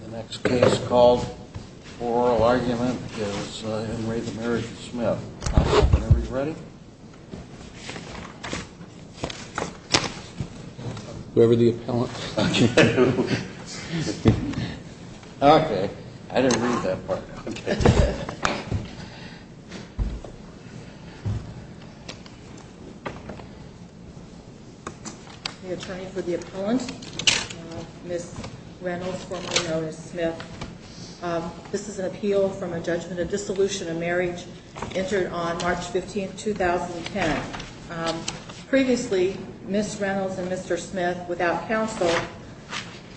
The next case called Oral Argument is Item 3, the Marriage of Smith. Everybody ready? Whoever the appellant is talking to. Okay. I didn't read that part. This is an appeal from a judgment of dissolution of marriage entered on March 15, 2010. Previously, Ms. Reynolds and Mr. Smith, without counsel,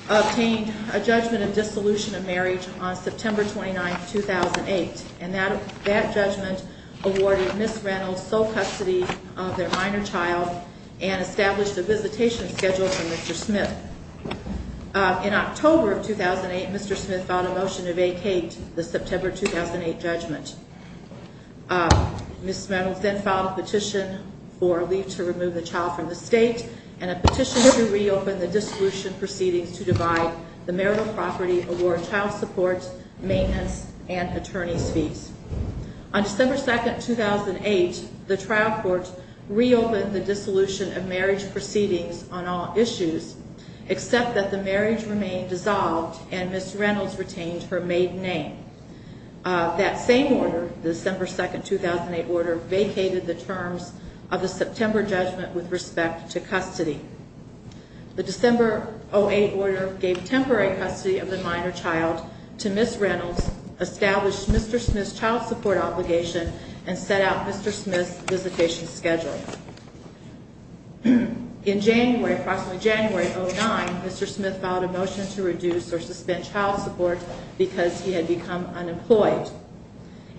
obtained a judgment of dissolution of marriage on September 29, 2008. And that judgment awarded Ms. Reynolds full custody of their minor child and established a visitation schedule for Mr. Smith. In October of 2008, Mr. Smith filed a motion to vacate the September 2008 judgment. Ms. Reynolds then filed a petition for a leave to remove the child from the state and a petition to reopen the dissolution proceeding to divide the marital property, award child support, maintenance, and attorney's fees. On December 2, 2008, the trial court reopened the dissolution of marriage proceedings on all issues, except that the marriage remained dissolved and Ms. Reynolds retained her maiden name. That same order, the December 2, 2008 order, vacated the terms of the September judgment with respect to custody. The December 2008 order gave temporary custody of the minor child to Ms. Reynolds, established Mr. Smith's child support obligation, and set out Mr. Smith's visitation schedule. In January, approximately January of 2009, Mr. Smith filed a motion to reduce or suspend child support because he had become unemployed.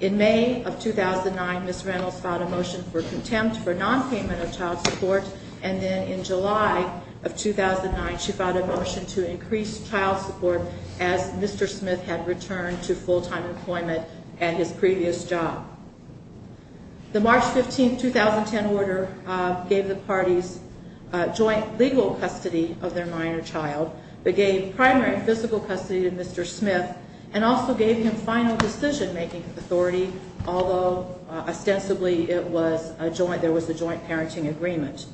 In May of 2009, Ms. Reynolds filed a motion for contempt for non-payment of child support, and then in July of 2009, she filed a motion to increase child support as Mr. Smith had returned to full-time employment at his previous job. The March 15, 2010 order gave the parties joint legal custody of their minor child. It gave primary physical custody to Mr. Smith, and also gave him final decision-making authority, although ostensibly there was a joint parenting agreement.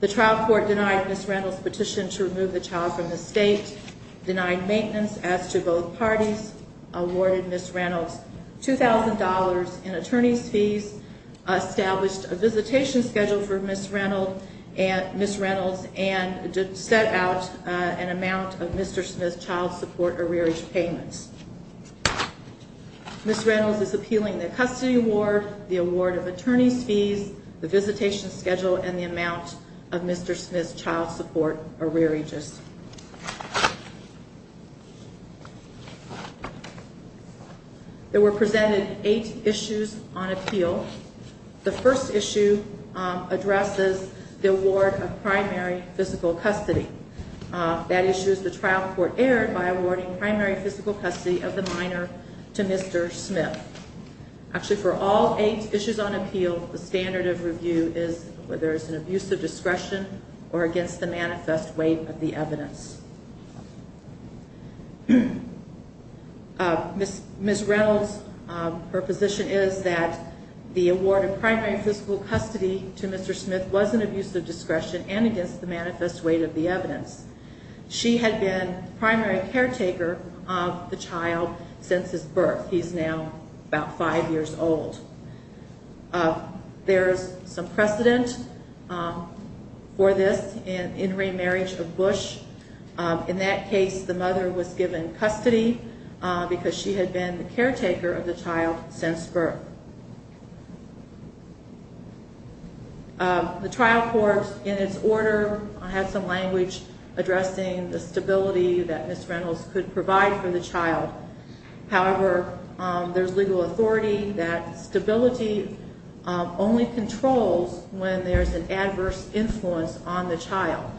The trial court denied Ms. Reynolds' petition to remove the child from the state, denied maintenance as to both parties, awarded Ms. Reynolds $2,000 in attorney fees, established a visitation schedule for Ms. Reynolds, and set out an amount of Mr. Smith's child support arrearage payment. Ms. Reynolds is appealing the custody award, the award of attorney fees, the visitation schedule, and the amount of Mr. Smith's child support arrearages. There were presented eight issues on appeal. The first issue addresses the award of primary physical custody. That issue is the trial court erred by awarding primary physical custody of the minor to Mr. Smith. Actually, for all eight issues on appeal, the standard of review is whether it's an abuse of discretion or against the manifest weight of the evidence. Ms. Reynolds, her position is that the award of primary physical custody to Mr. Smith was an abuse of discretion and against the manifest weight of the evidence. She had been primary caretaker of the child since his birth. He's now about five years old. There's some precedent for this in remarriage of Bush. In that case, the mother was given custody because she had been the caretaker of the child since birth. The trial court, in its order, has some language addressing the stability that Ms. Reynolds could provide for the child. However, there's legal authority that stability only controls when there's an adverse influence on the child.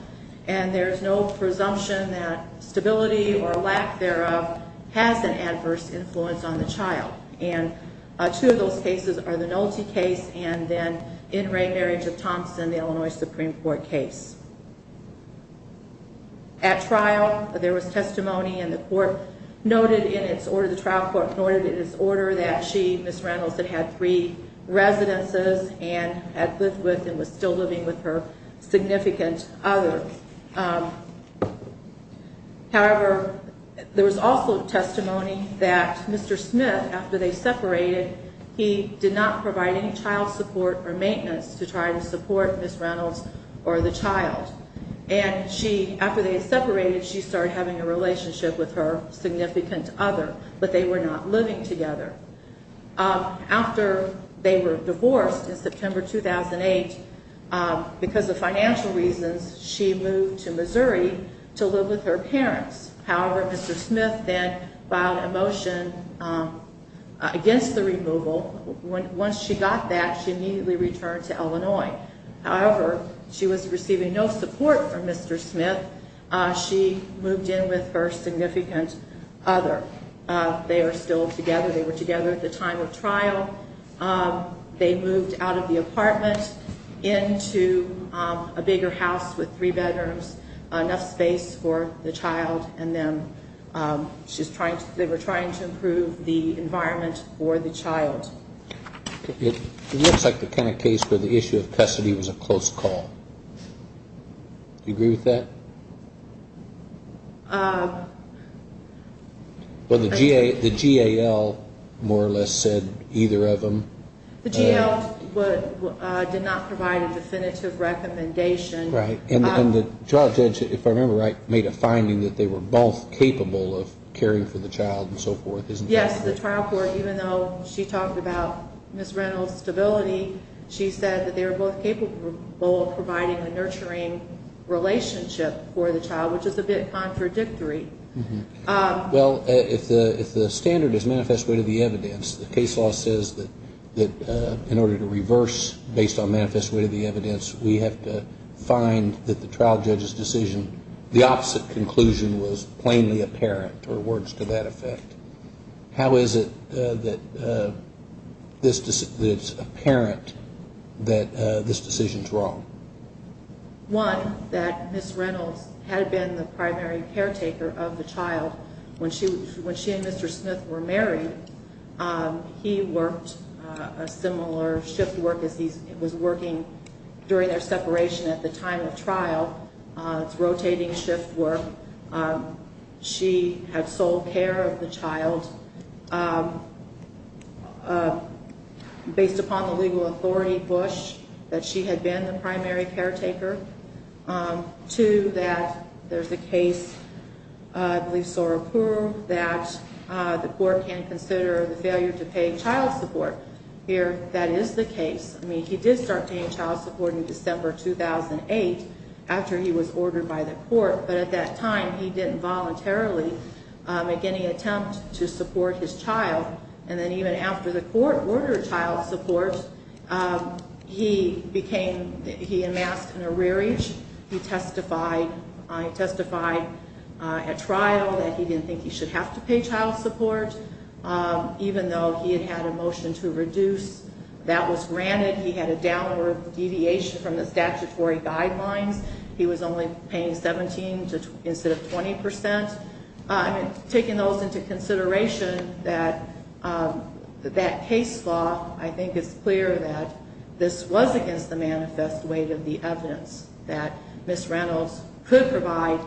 There's no presumption that stability or lack thereof has an adverse influence on the child. Two of those cases are the Nolte case and then in remarriage of Thompson, the Illinois Supreme Court case. At trial, there was testimony and the trial court noted in its order that she, Ms. Reynolds, had three residences. And, as this was, she was still living with her significant other. However, there was also testimony that Mr. Smith, after they separated, he did not provide any child support or maintenance to try to support Ms. Reynolds or the child. And she, after they separated, she started having a relationship with her significant other, but they were not living together. After they were divorced in September 2008, because of financial reasons, she moved to Missouri to live with her parents. However, Mr. Smith then filed a motion against the removal. Once she got that, she immediately returned to Illinois. However, she was receiving no support from Mr. Smith. She moved in with her significant other. They are still together. They were together at the time of trial. They moved out of the apartment into a bigger house with three bedrooms, enough space for the child. And then they were trying to improve the environment for the child. It looks like the kind of case where the issue of custody was a close call. Do you agree with that? Well, the GAL more or less said either of them. The GAL did not provide a definitive recommendation. Right. And the child judge, if I remember right, made a finding that they were both capable of caring for the child and so forth, isn't that correct? Yes, the child court, even though she talked about Ms. Reynolds' disability, she said that they were both capable of providing a nurturing relationship for the child, which is a bit contradictory. Well, if the standard is manifest way to the evidence, the case law says that in order to reverse based on manifest way to the evidence, we have to find that the trial judge's decision, the opposite conclusion was plainly apparent, or words to that effect. How is it that it's apparent that this decision is wrong? One, that Ms. Reynolds had been the primary caretaker of the child when she and Mr. Smith were married. He worked a similar shift work as he was working during their separation at the time of trial, rotating shift work. She had sole care of the child based upon the legal authority push that she had been the primary caretaker. Two, that there's a case we saw approved that the court can consider the failure to pay child support. Here, that is the case. I mean, he did start paying child support in December 2008 after he was ordered by the court. But at that time, he didn't voluntarily make any attempts to support his child. And then even after the court ordered child support, he became, he amassed an arrearage. He testified at trial that he didn't think he should have to pay child support, even though he had had a motion to reduce. That was granted. He had a downward deviation from the statutory guideline. He was only paying 17 instead of 20%. I'm taking those into consideration that that case law, I think it's clear that this was against the man's best way to be evident, that Ms. Reynolds could provide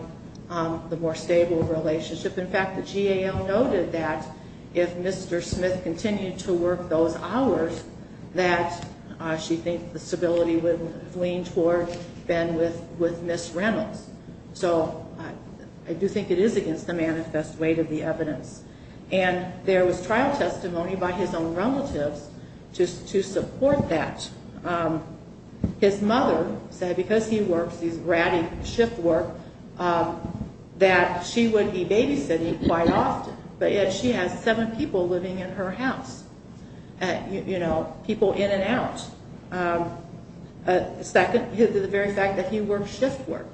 the more stable relationship. In fact, the GAO noted that if Mr. Smith continued to work those hours, that she thinks the stability would lean towards, then with Ms. Reynolds. So, I do think it is against the man's best way to be evident. And there was trial testimony by his own relative to support that. His mother said because he worked, he ratted shift work, that she would be babysitting quite often. But yet she had seven people living in her house. You know, people in and out. Second, the very fact that he worked shift work.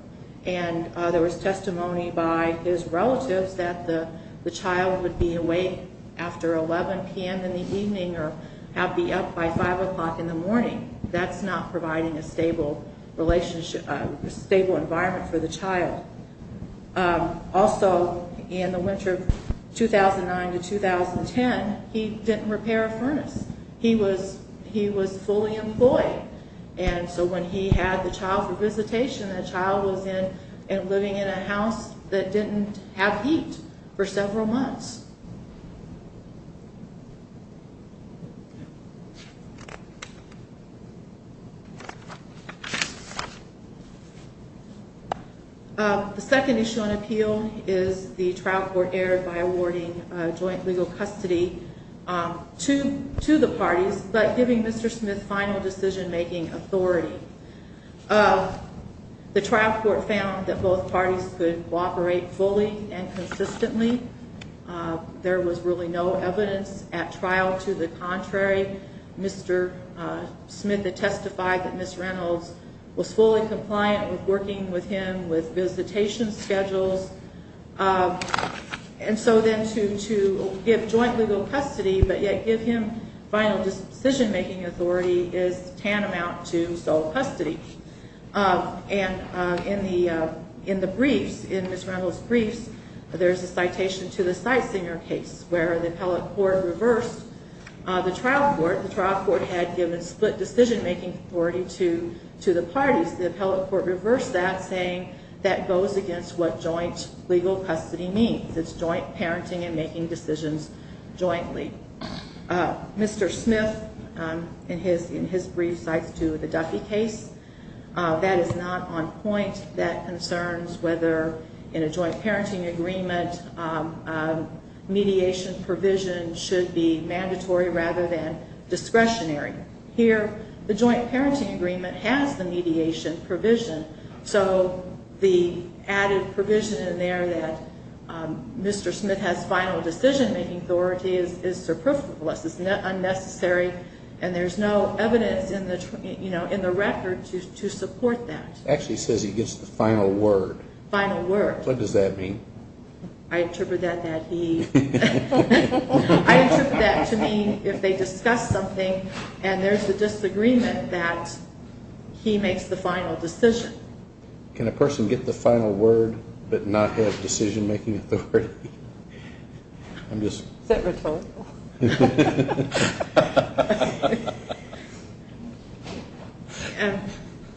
And there was testimony by his relative that the child would be awake after 11 p.m. in the evening or have to be up by 5 o'clock in the morning. That's not providing a stable environment for the child. Also, in the winter of 2009 to 2010, he didn't repair a furnace. He was fully employed. And so when he had the child for visitation, the child was living in a house that didn't have heat for several months. The second issue on appeal is the trial court error by awarding joint legal custody. To the parties, but giving Mr. Smith final decision-making authority. The trial court found that both parties could cooperate fully and consistently. There was really no evidence at trial to the contrary. Mr. Smith had testified that Ms. Reynolds was fully compliant with working with him with visitation schedules. And so then to give joint legal custody, but yet give him final decision-making authority is tantamount to sole custody. And in the brief, in Ms. Reynolds' brief, there's a citation to the Sightseer case where the trial court reversed the trial court. The trial court had given split decision-making authority to the parties. The trial court reversed that, saying that goes against what joint legal custody means. It's joint parenting and making decisions jointly. Mr. Smith, in his brief, cites to the Duffy case. That is not on point. That concerns whether in a joint parenting agreement, mediation provision should be mandatory rather than discretionary. Here, the joint parenting agreement has the mediation provision. So the added provision in there that Mr. Smith has final decision-making authority is surplus. It's unnecessary, and there's no evidence in the record to support that. Actually says he gets the final word. Final word. What does that mean? I attribute that to me if they discuss something and there's a disagreement that he makes the final decision. Can a person get the final word but not have decision-making authority? That was helpful.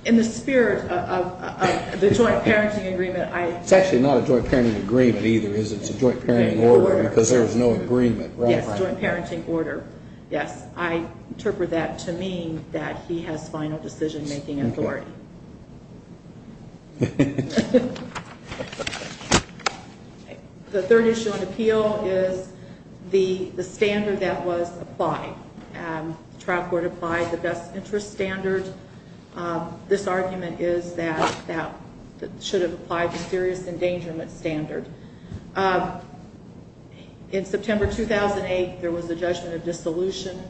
In the spirit of the joint parenting agreement, I- It's actually not a joint parenting agreement either. It's a joint parenting order because there's no agreement. Yes, joint parenting order. I interpret that to mean that he has final decision-making authority. The third issue on the appeal is the standard that was applied. The trial court applied the best interest standard. This argument is that that should have applied the serious endangerment standard. In September 2008, there was a judgment of dissolution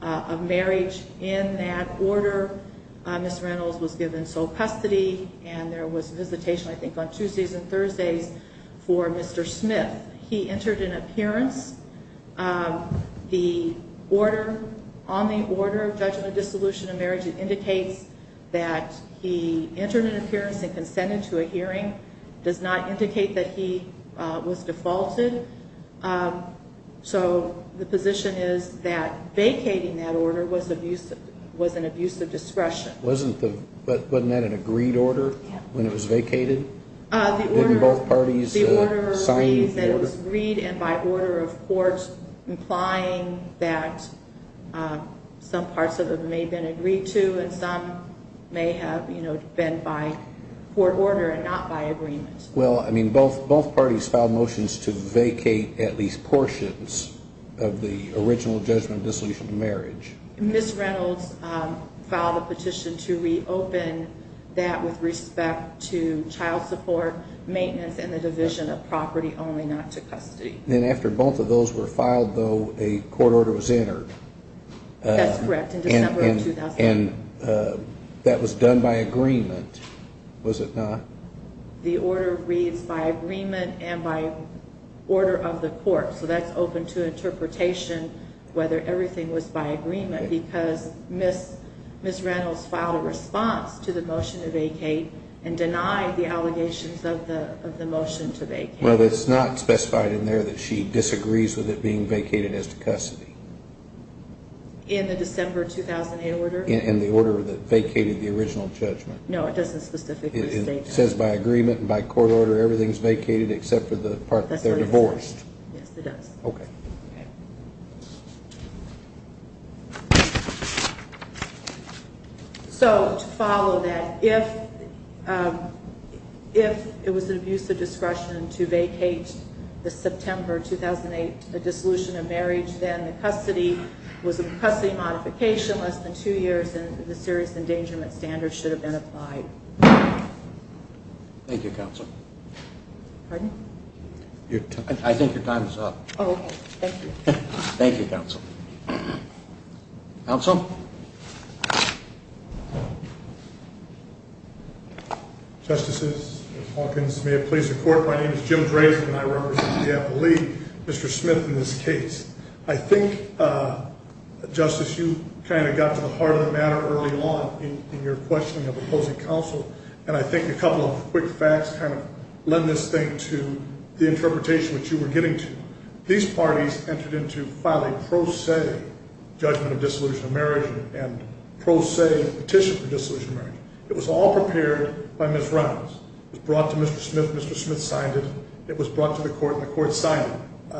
of marriage in that order. Mr. Reynolds was given sole custody, and there was a visitation, I think, on Tuesdays and Thursdays for Mr. Smith. He entered an appearance. The order, on the order of judgment of dissolution of marriage, it indicates that he entered an appearance and consented to a hearing. It does not indicate that he was defaulted. The position is that vacating that order was an abuse of discretion. Wasn't that an agreed order when it was vacated? The order was agreed and by order of courts implying that some parts of it may have been agreed to and some may have been by court order and not by agreement. Both parties filed motions to vacate at least portions of the original judgment of dissolution of marriage. Ms. Reynolds filed a petition to reopen that with respect to child support, maintenance, and the division of property, only not to custody. After both of those were filed, though, a court order was entered. That's correct. That was done by agreement, was it not? The order reads by agreement and by order of the court. So that's open to interpretation whether everything was by agreement because Ms. Reynolds filed a response to the motion to vacate and denied the allegations of the motion to vacate. But it's not specified in there that she disagrees with it being vacated as custody. In the December 2008 order? In the order that vacated the original judgment. It says by agreement and by court order everything is vacated except for the part that they're divorced. Yes, it does. Okay. So to follow that, if it was an abuse of discretion to vacate the September 2008, the dissolution of marriage, then the custody was in custody modification less than two years and the serious endangerment standards should have been applied. Thank you, counsel. Pardon? I think your time is up. Oh, okay. Thank you. Thank you, counsel. Justices, Ms. Hawkins, may it please the court, my name is Jim Graves and I'm a member of the CFO League. Mr. Smith in this case, I think, Justice, you kind of got to the heart of the matter early on in your question of opposing counsel. And I think a couple of quick facts kind of lend this thing to the interpretation that you were getting to. These parties entered into filing pro se judgment of dissolution of marriage and pro se petition for dissolution of marriage. It was all prepared by Ms. Reynolds. It was brought to Mr. Smith. Mr. Smith signed it. It was brought to the court and the court signed it.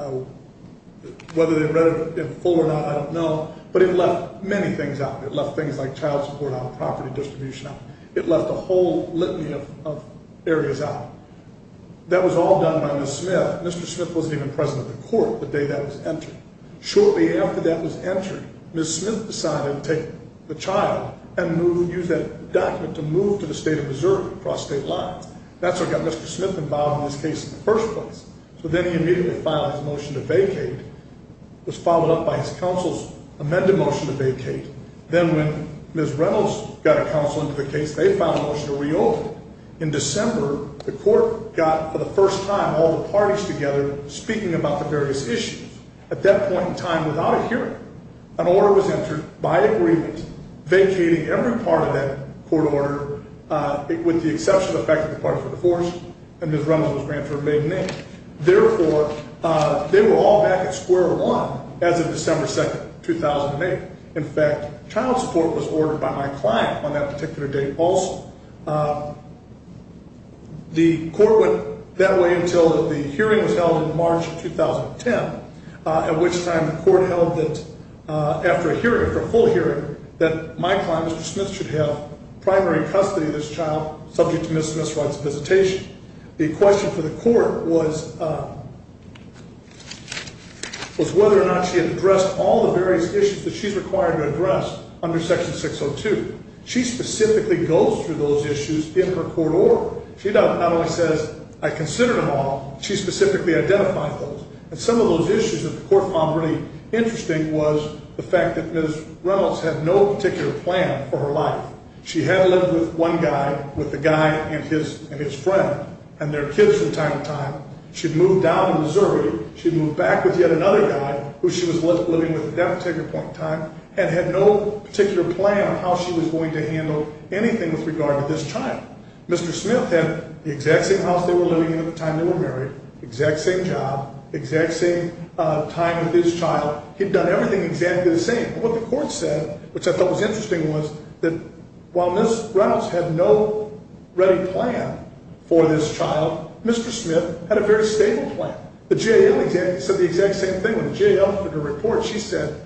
Whether they read it in full or not, I don't know, but it left many things out. It left things like child support out, property distribution out. It left a whole litany of areas out. That was all done by Ms. Smith. Mr. Smith wasn't even president of the court the day that was entered. Shortly after that was entered, Ms. Smith decided to take the child and use that document to move to the state of Missouri across state lines. That's what got Mr. Smith involved in this case in the first place. So then he immediately filed a motion to vacate. It was followed up by his counsel's amended motion to vacate. Then when Ms. Reynolds got her counsel to vacate, they filed a motion to reopen. In December, the court got, for the first time, all the parties together speaking about the various issues. At that point in time, without a hearing, an order was entered by a grievance vacating every part of that court order with the exception of the fact that part of the course and Ms. Reynolds was granted her maiden name. Therefore, they were all back at square one as of December 2nd, 2008. In fact, child support was ordered by my client on that particular day, false. The court went that way until the hearing was held in March of 2010, at which time the court held that after a hearing, a full hearing, that my client, Mr. Smith, should have primary custody of this child subject to Ms. Miss Reynolds' visitation. The question for the court was whether or not she addressed all the various issues that she's required to address under Section 602. She specifically goes through those issues in her court order. She not only says, I considered them all, she specifically identified those. And some of those issues that the court found really interesting was the fact that Ms. Reynolds has no particular plan for her life. She had lived with one guy, with a guy and his friend, and their kids from time to time. She'd moved down to Missouri. She'd moved back with yet another guy, who she was living with at that particular point in time, and had no particular plan on how she was going to handle anything with regard to this child. Mr. Smith had the exact same house they were living in at the time they were married, exact same job, exact same time with this child. He'd done everything exactly the same. And what the court said, which I thought was interesting, was that while Ms. Reynolds had no ready plan for this child, Mr. Smith had a very stable plan. The GAO said the exact same thing. The GAO did a report. She said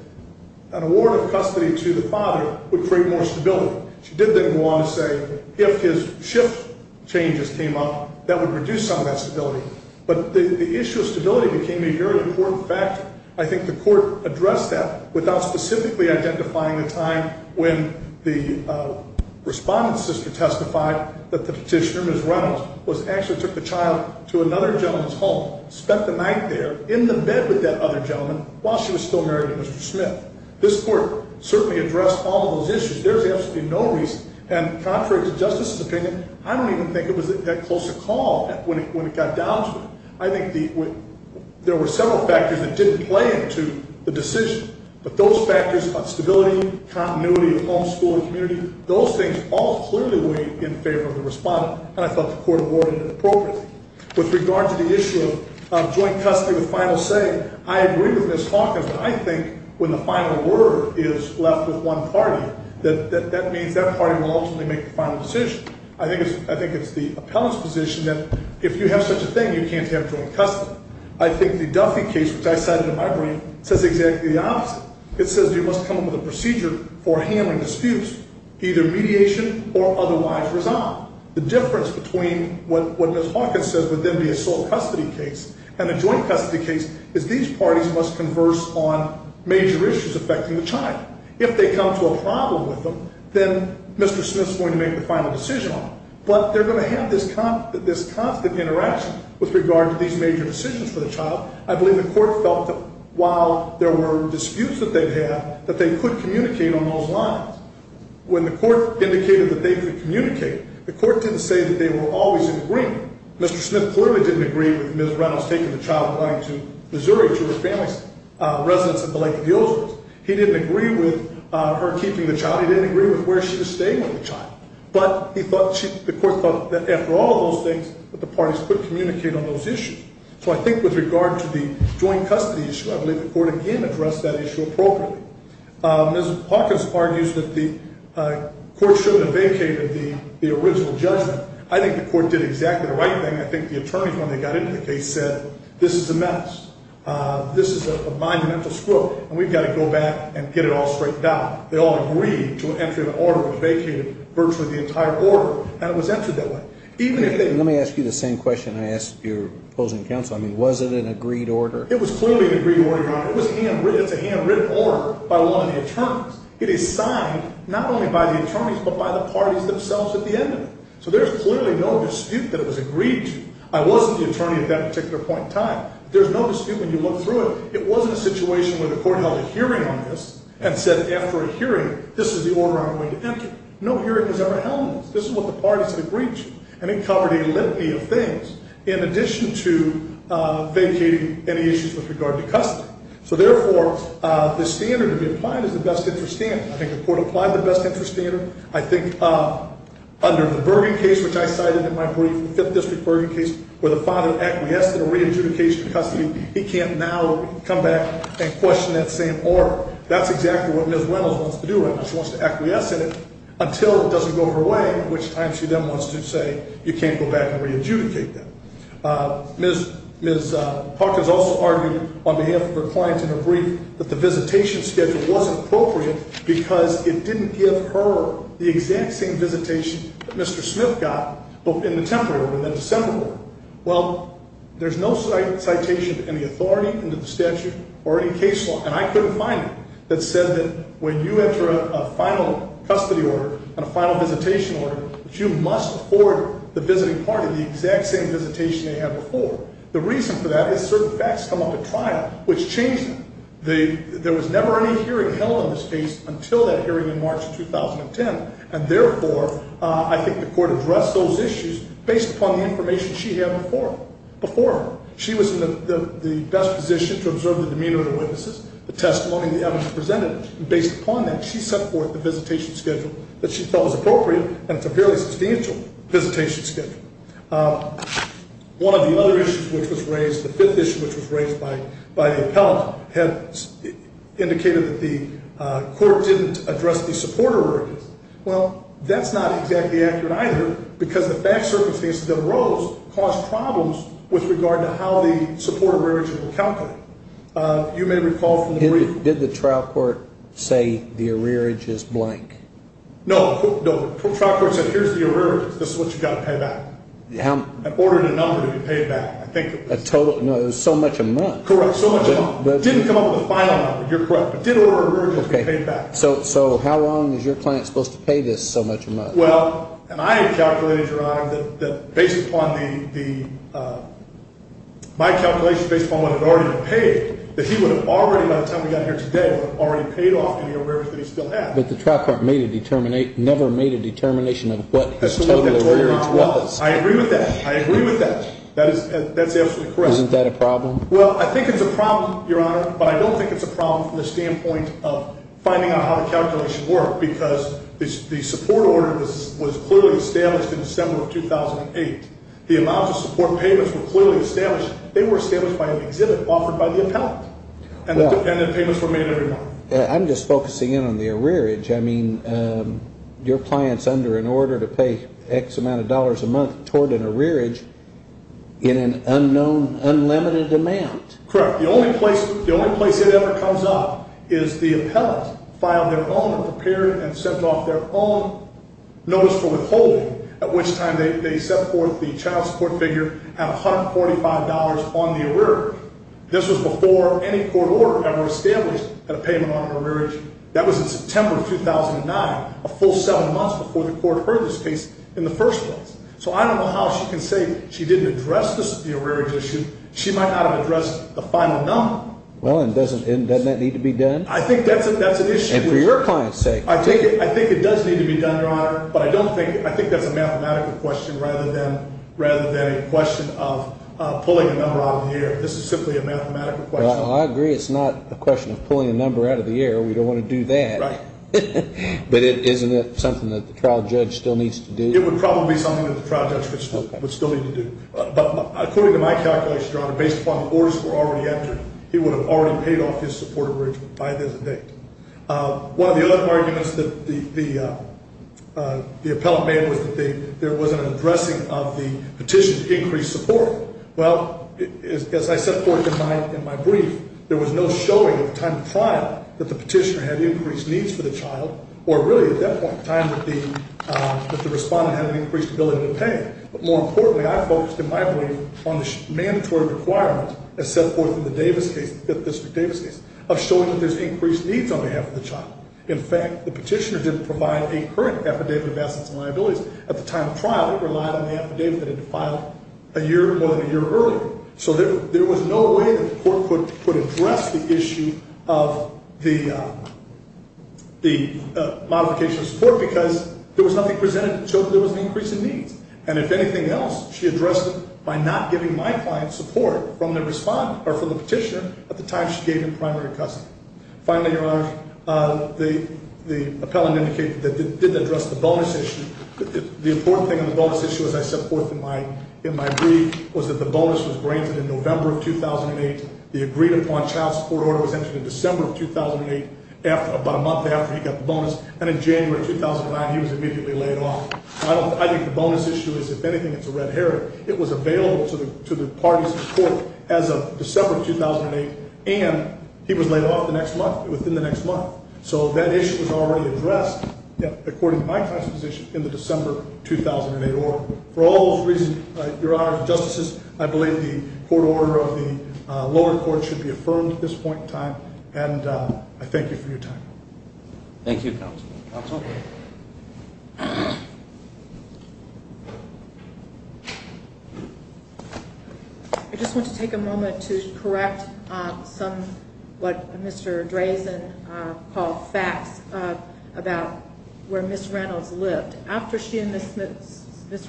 an award of custody to the father would bring more stability. She did then want to say if his shift changes came up, that would reduce some of that stability. But the issue of stability became a very important fact. I think the court addressed that without specifically identifying the time when the respondent's sister testified that the petitioner, Ms. Reynolds, actually took the child to another gentleman's home, spent the night there in the bed with that other gentleman, while she was still married to Mr. Smith. This court certainly addressed all those issues. There's absolutely no reason, and contrary to justice's opinion, I don't even think it was that close a call when it got down to it. I think there were several factors that did play into the decision. But those factors of stability, continuity of homeschooling, community, those things all clearly weighed in favor of the respondent. And I thought the court awarded it appropriately. With regard to the issue of joint custody of final say, I agree with Ms. Hawkins. I think when the final word is left with one party, that that party will ultimately make the final decision. I think it's the appellate's position that if you have such a thing, you can't have joint custody. I think the Duffy case, which I've had in my brain, says exactly the opposite. It says you must come up with a procedure for handling disputes, either mediation or otherwise resolved. The difference between what Ms. Hawkins says within the asylum custody case and the joint custody case is these parties must converse on major issues affecting the child. If they come to a problem with them, then Mr. Smith's going to make the final decision on it. But they're going to have this constant interaction with regard to these major decisions for the child. I believe the court felt that while there were disputes that they had, that they could communicate on those lines. When the court indicated that they could communicate, the court didn't say that they would always agree. Mr. Smith clearly didn't agree with Ms. Rouse taking the child flying to Missouri to her family's residence at the Lake of the Oaks. He didn't agree with her keeping the child. He didn't agree with where she was staying with the child. But the court felt that after all those things, that the parties could communicate on those issues. So I think with regard to the joint custody issue, I believe the court, again, addressed that issue appropriately. Ms. Hawkins argues that the court shouldn't have vacated the original judgment. I think the court did exactly the right thing. I think the attorneys, when they got into the case, said this is a mess. This is a monumental scrooge, and we've got to go back and get it all straightened out. They all agreed to enter the order of vacating virtually the entire order, and it was entered that way. Let me ask you the same question I asked your opposing counsel. I mean, was it an agreed order? It was clearly an agreed order, Your Honor. It was a handwritten order by one attorney. It is signed not only by the attorneys but by the parties themselves at the end of it. So there's clearly no dispute that it was agreed to. I was the attorney at that particular point in time. There's no dispute when you look through it. It wasn't a situation where the court held a hearing on this and said, after a hearing, this is the order I'm going to enter. No hearing was ever held on it. This is what the parties had reached, and it covered an olympia of things in addition to vacating any issues with regard to custody. So, therefore, the standard to be applied is the best interest standard. I think the court applied the best interest standard. I think under the Bergen case, which I cited in my brief, the Fifth District Bergen case, where the father acquiesced in a re-adjudication company, he can't now come back and question that same order. That's exactly what Ms. Wentz wants to do. She wants to acquiesce in it until it doesn't go her way, which she then wants to say you can't go back and re-adjudicate them. Ms. Parker has also argued on behalf of her clients in her brief that the visitation schedule wasn't appropriate because it didn't give her the exact same visitation that Mr. Smith got in the temporary order, the assembly order. Well, there's no citation of any authority in the statute or any case law, and I couldn't find it, that said that when you enter a final custody order and a final visitation order, you must afford the visiting party the exact same visitation they had before. The reason for that is certain facts come off the trial, which changes it. There was never any hearing held in this case until that hearing in March 2010, and therefore, I think the court addressed those issues based upon the information she had before. Before, she was in the best position to observe the demeanor of the witnesses, the testimony, and the evidence presented. Based upon that, she set forth the visitation schedule that she felt was appropriate, and it's a fairly substantial visitation schedule. One of the other issues which was raised, the fifth issue which was raised by the appellant, has indicated that the court didn't address the supporter areas. Well, that's not exactly accurate either because the facts are the things that arose, caused problems with regard to how the supporter areas were accounted for. Did the trial court say the arrearage is blank? No, the trial court said here's the arrearage. This is what you've got to pay back. I've ordered a number. You can pay it back. There's so much amount. Correct, so much amount. It didn't come up with a final amount. You're correct. It didn't order an arrearage. You can pay it back. So how long is your client supposed to pay this so much amount? Well, and I have calculated, Your Honor, that based upon my calculation, based upon what had already been paid, that he would have already, by the time we got here today, would have already paid off the arrearage that he still had. But the trial court never made a determination of what the total arrearage was. I agree with that. I agree with that. That's absolutely correct. Isn't that a problem? Well, I think it's a problem, Your Honor, but I don't think it's a problem from the standpoint of finding out how the calculations work because the support order was clearly established in December of 2008. The amount of support payments were clearly established. They were established by an exhibit offered by the appellate, and the payments were made in advance. I'm just focusing in on the arrearage. I mean, your client's under an order to pay X amount of dollars a month toward an arrearage in an unknown, unlimited amount. Correct. Now, the only place it ever comes up is the appellate filed their own, prepared and sent off their own notice for withholding, at which time they set forth the child support figure at $145 on the arrearage. This was before any court order ever established a payment on an arrearage. That was in September of 2009, a full seven months before the court heard this case in the first one. So I don't know how she can say she didn't address the arrearage issue. She might not have addressed the final number. Well, and doesn't that need to be done? I think that's an issue. And for your client's sake. I think it does need to be done, Your Honor, but I think that's a mathematical question rather than a question of pulling a number out of the air. This is simply a mathematical question. Well, I agree it's not a question of pulling a number out of the air. We don't want to do that. Right. But isn't it something that the trial judge still needs to do? It would probably be something that the trial judge would still need to do. But according to my calculation, Your Honor, based upon the orders that were already entered, he would have already paid off his support arrearage by this date. One of the other arguments that the appellant made was that there was an addressing of the petition to increase support. Well, as I set forth in my brief, there was no showing at the time of trial that the petitioner had increased needs for the child, or really at that point in time that the respondent had an increased ability to pay. But more importantly, I focused in my brief on the mandatory requirements, as set forth in the Davis case, the official Davis case, of showing that there's increased needs on behalf of the child. In fact, the petitioner didn't provide a current affidavit of absence of liability. At the time of trial, it relied on the affidavit that had been filed more than a year earlier. So there was no way that the court could address the issue of the modification of support And if anything else, she addressed it by not giving my client support for the petitioner at the time she gave him primary custody. Finally, the appellant indicated that they did address the bonus issue. The important thing on the bonus issue, as I set forth in my brief, was that the bonus was granted in November of 2008. The agreed-upon child support order was entered in December of 2008. About a month after he got the bonus, and in January of 2009, he was immediately laid off. I think the bonus issue is, if anything, it's a red herring. It was available to the parties in court as of December of 2008, and he was laid off within the next month. So that issue was already addressed, according to my proposition, in the December of 2008 order. For all those reasons, Your Honor, and Justice, I believe the court order of the lower court should be affirmed at this point in time, and I thank you for your time. Thank you, counsel. I just want to take a moment to correct some of what Mr. Drazen calls facts about where Ms. Reynolds lived. After she and Mr.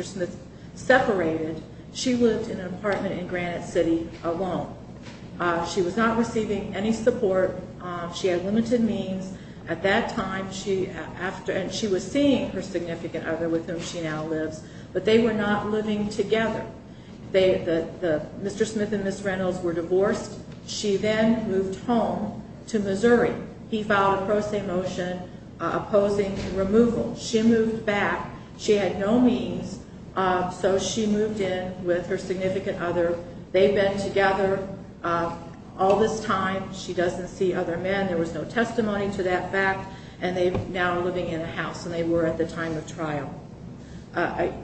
Smith separated, she was in an apartment in Granite City alone. She was not receiving any support. She had limited means. At that time, she was seeing her significant other, with whom she now lives, but they were not living together. Mr. Smith and Ms. Reynolds were divorced. She then moved home to Missouri. He filed a pro se motion opposing the removal. She moved back. She had no means, so she moved in with her significant other. They've been together all this time. She doesn't see other men. There was no testimony to that fact, and they're now living in a house, and they were at the time of trial.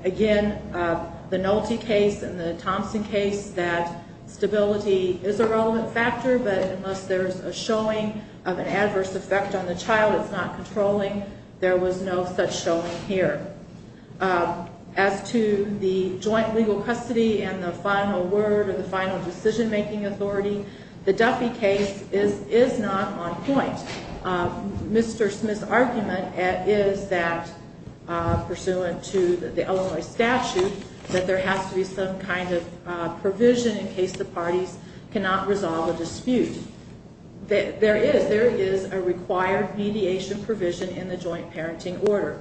Again, the Nolte case and the Thompson case, that stability is a relevant factor, but unless there's a showing of an adverse effect on the child it's not controlling, there was no such showing here. As to the joint legal custody and the final word or the final decision-making authority, the Duffy case is not on point. Mr. Smith's argument is that, pursuant to the Illinois statute, that there has to be some kind of provision in case the parties cannot resolve a dispute. There is a required mediation provision in the joint parenting order.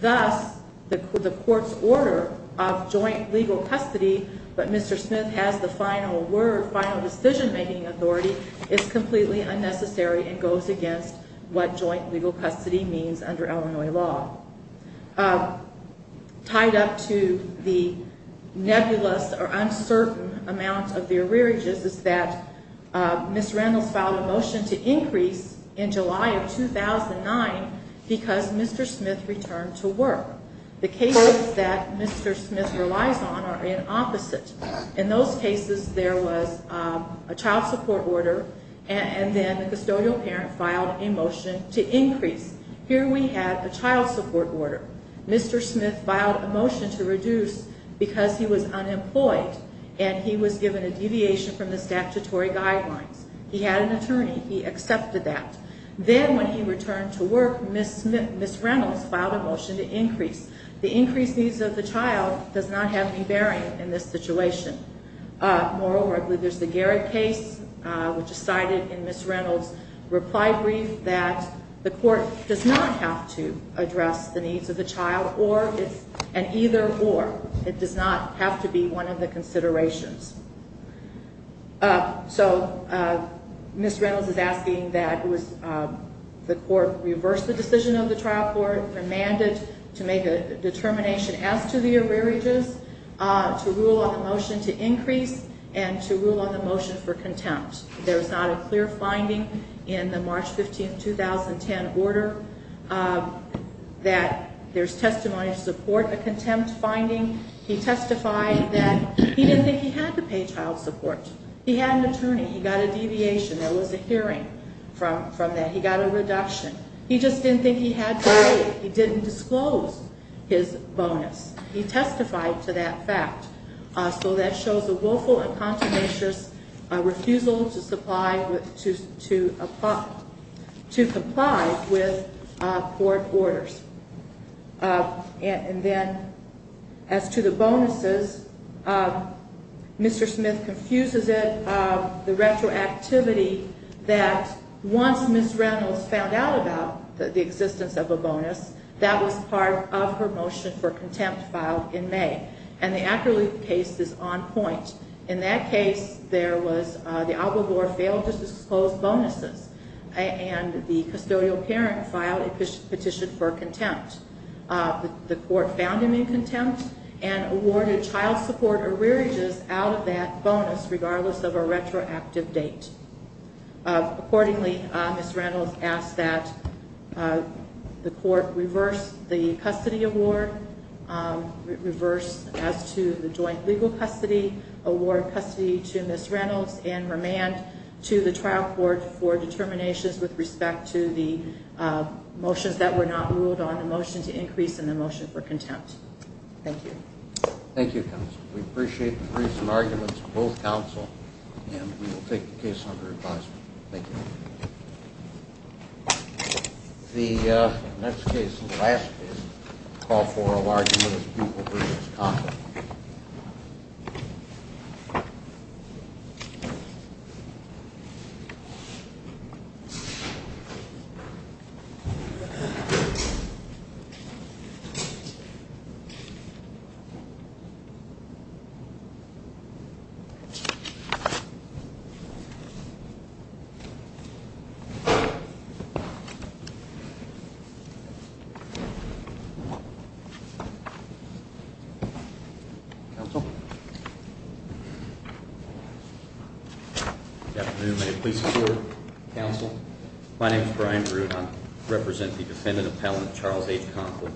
Thus, the court's order of joint legal custody, but Mr. Smith has the final word, final decision-making authority, is completely unnecessary and goes against what joint legal custody means under Illinois law. Tied up to the nebulous or uncertain amount of the arrearages is that Ms. Reynolds filed a motion to increase in July of 2009 because Mr. Smith returned to work. The cases that Mr. Smith relies on are in opposites. In those cases there was a child support order and then the custodial parent filed a motion to increase. Here we have the child support order. Mr. Smith filed a motion to reduce because he was unemployed and he was given a deviation from the statutory guideline. He had an attorney. He accepted that. Then when he returned to work, Ms. Reynolds filed a motion to increase. The increase of the child does not have any bearing in this situation. Moreover, there's the Garrett case which is cited in Ms. Reynolds' reply brief that the court does not have to address the needs of the child and either or it does not have to be one of the considerations. So Ms. Reynolds is asking that the court reverse the decision of the trial court and mandate to make a determination as to the arrearages, to rule on the motion to increase and to rule on the motion for contempt. There's not a clear finding in the March 15, 2010 order that there's testimony to support the contempt finding. He testified that he didn't think he had to pay child support. He had an attorney. He got a deviation. There was a hearing from that. He got a reduction. He just didn't think he had to pay it. He didn't disclose his bonus. He testified to that fact. So that shows a vocal and consummative refusal to comply with court orders. And then, as to the bonuses, Mr. Smith confuses it. The retroactivity that once Ms. Reynolds found out about the existence of a bonus, that was part of her motion for contempt filed in May. And the accolades case is on point. In that case, there was the alibis or failed to disclose bonuses and the custodial parent filed a petition for contempt. The court found in the contempt and awarded child support or rearages out of that bonus regardless of a retroactive date. Accordingly, Ms. Reynolds asked that the court reverse the custody award, reverse as to the joint legal custody, award custody to Ms. Reynolds and remand to the child support for determinations with respect to the motions that were not ruled on the motion to increase and the motion for contempt. Thank you. Thank you, counsel. We appreciate the briefs and arguments from both counsel. And we will take the case under advisement. Thank you. The next case and last case call for a large group of people to respond. Okay. Good afternoon. Good afternoon, counsel. My name is Brian Drew. I represent the defendant appellant, Charles H. Conkle,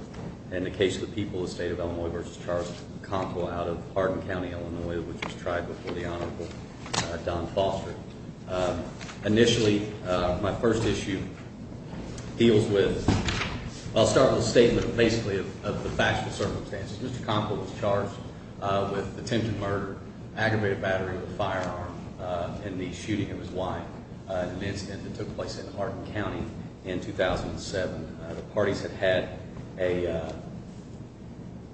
and the case of the people of the state of Illinois v. Charles Conkle out of Hardin County, Illinois, which was tried before the Honorable Don Foster. Initially, my first issue deals with, I'll start with a statement basically of the facts and circumstances. Mr. Conkle was charged with attempted murder, aggravated battery with a firearm in the shooting of his wife in an incident that took place in Hardin County in 2007. The parties that had a,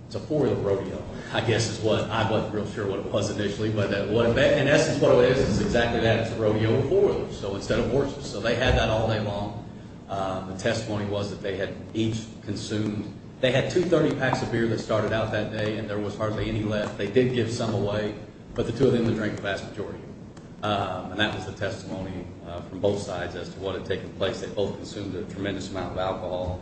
it's a four-year rodeo. I guess is what, I wasn't real sure what it was initially, but it was exactly that rodeo of four of them, so instead of horses. So they had that all day long. The testimony was that they had each consumed, they had 230 packs of beer that started out that day and there was hardly any left. They did give some away, but the two of them didn't drink the vast majority. And that was the testimony from both sides as to what had taken place. They both consumed a tremendous amount of alcohol.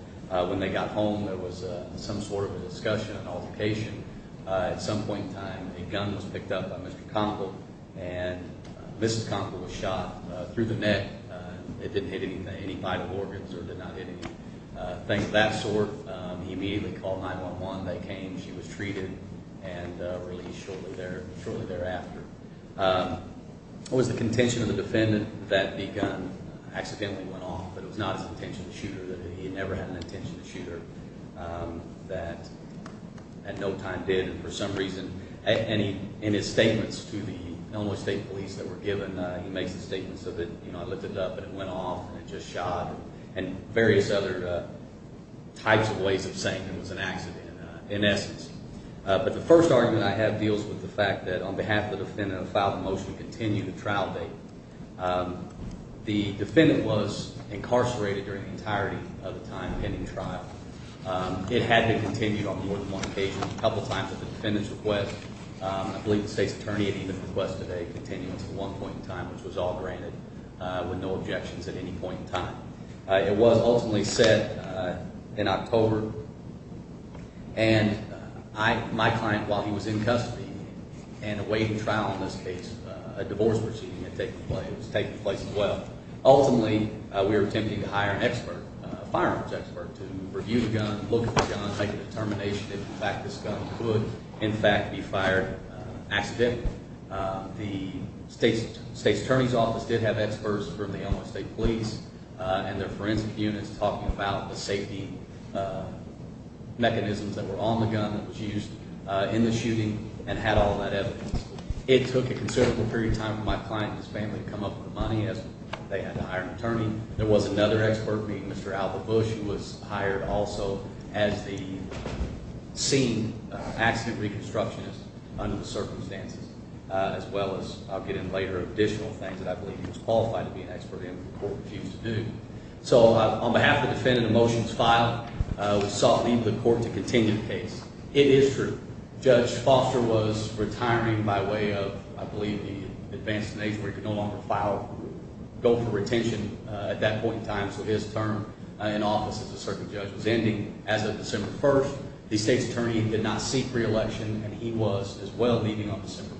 When they got home, there was some sort of a discussion, an altercation. At some point in time, a gun was picked up by Mr. Conkle, and Mrs. Conkle was shot through the neck. They didn't hit any vital organs, so they're not hitting things of that sort. He immediately called 911. They came. She was treated and released shortly thereafter. It was the contention of the defendant that the gun accidentally went off, but it was not an intentional shooter. He had never had an intentional shooter that at no time did. And for some reason, in his statements to the Elmwood State Police that were given, he made the statement, that it went off and just shot, and various other types of ways of saying it was an accident, in essence. But the first argument I have deals with the fact that, on behalf of the defendant who filed the motion to continue the trial date, the defendant was incarcerated during the entirety of the time in the trial. It had to continue on more than one occasion. A couple of times, the defendant's request, I believe the state attorney had even requested a continuance at one point in time, which was all granted, with no objections at any point in time. It was ultimately set in October, and my client, while he was in custody and awaiting trial in this case, a divorce proceeding had taken place as well. Ultimately, we were attempting to hire an expert, a firearms expert, to review the gun, look at the gun, make a determination as to the fact this gun could, in fact, be fired accidentally. The state attorney's office did have experts from the Illinois State Police and their forensic unit talking about the safety mechanisms that were on the gun that was used in the shooting, and had all that evidence. It took a considerable period of time for my client's family to come up with the money as they had to hire an attorney. There was another expert, Mr. Albert Bush, who was hired also, as the scene accident reconstructionist under the circumstances, as well as, I'll get into later, additional things that I believe he was qualified to be an expert in before he was due. So, on behalf of the defendant, the motion was filed. We sought leave of the court to continue the case. It is true. Judge Foster was retiring by way of, I believe, the advance of the nation, in office as a circuit judge. Then, as of December 1st, the state attorney did not seek re-election, and he was, as well, meeting on December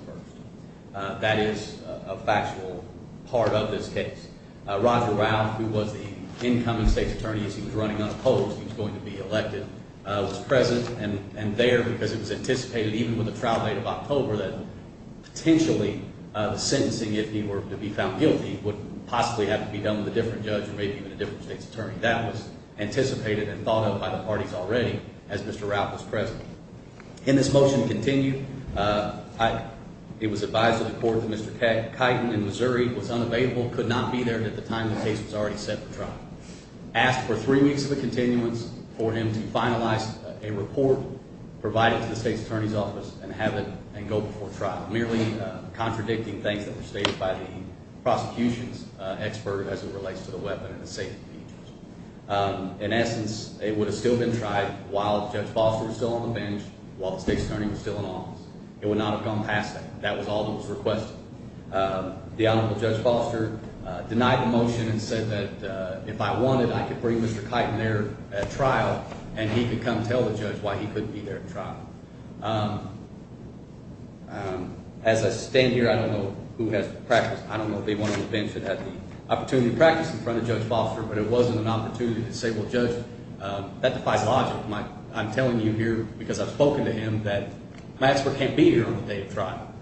1st. That is a factual part of this case. Robert Rao, who was the incoming state attorney, as he was running on the post, he was going to be elected, was present and there because it was anticipated, even with the trial date of October, that potentially sentencing, if he were to be found guilty, would possibly have to be done with a different judge, maybe with a different state attorney. That was anticipated and thought of by the parties already, as Mr. Rao was present. Can this motion continue? It was advised of the court that Mr. Kighton in Missouri was unavailable, could not be there at the time the case was already set for trial. Asked for three weeks of a continuance for him to finalize a report, provide it to the state attorney's office, and have it go before trial. Merely contradicting things that were stated by the prosecution's expert as it relates to the weapon and the safety features. In essence, it would have still been tried while Judge Foster was still on the bench, while the state attorney was still in office. It would not have gone past that. That was Alderman's request. The alibi for Judge Foster denied the motion and said that if I wanted, I could bring Mr. Kighton there at trial and he could come tell the judge why he couldn't be there at trial. As I stand here, I don't know who has the practice. I don't know if anyone on the bench that has the opportunity to practice in front of Judge Foster, but it was an opportunity to say, well, Judge, that's by logic. I'm telling you here because I've spoken to him that my expert can't be here on the day of trial.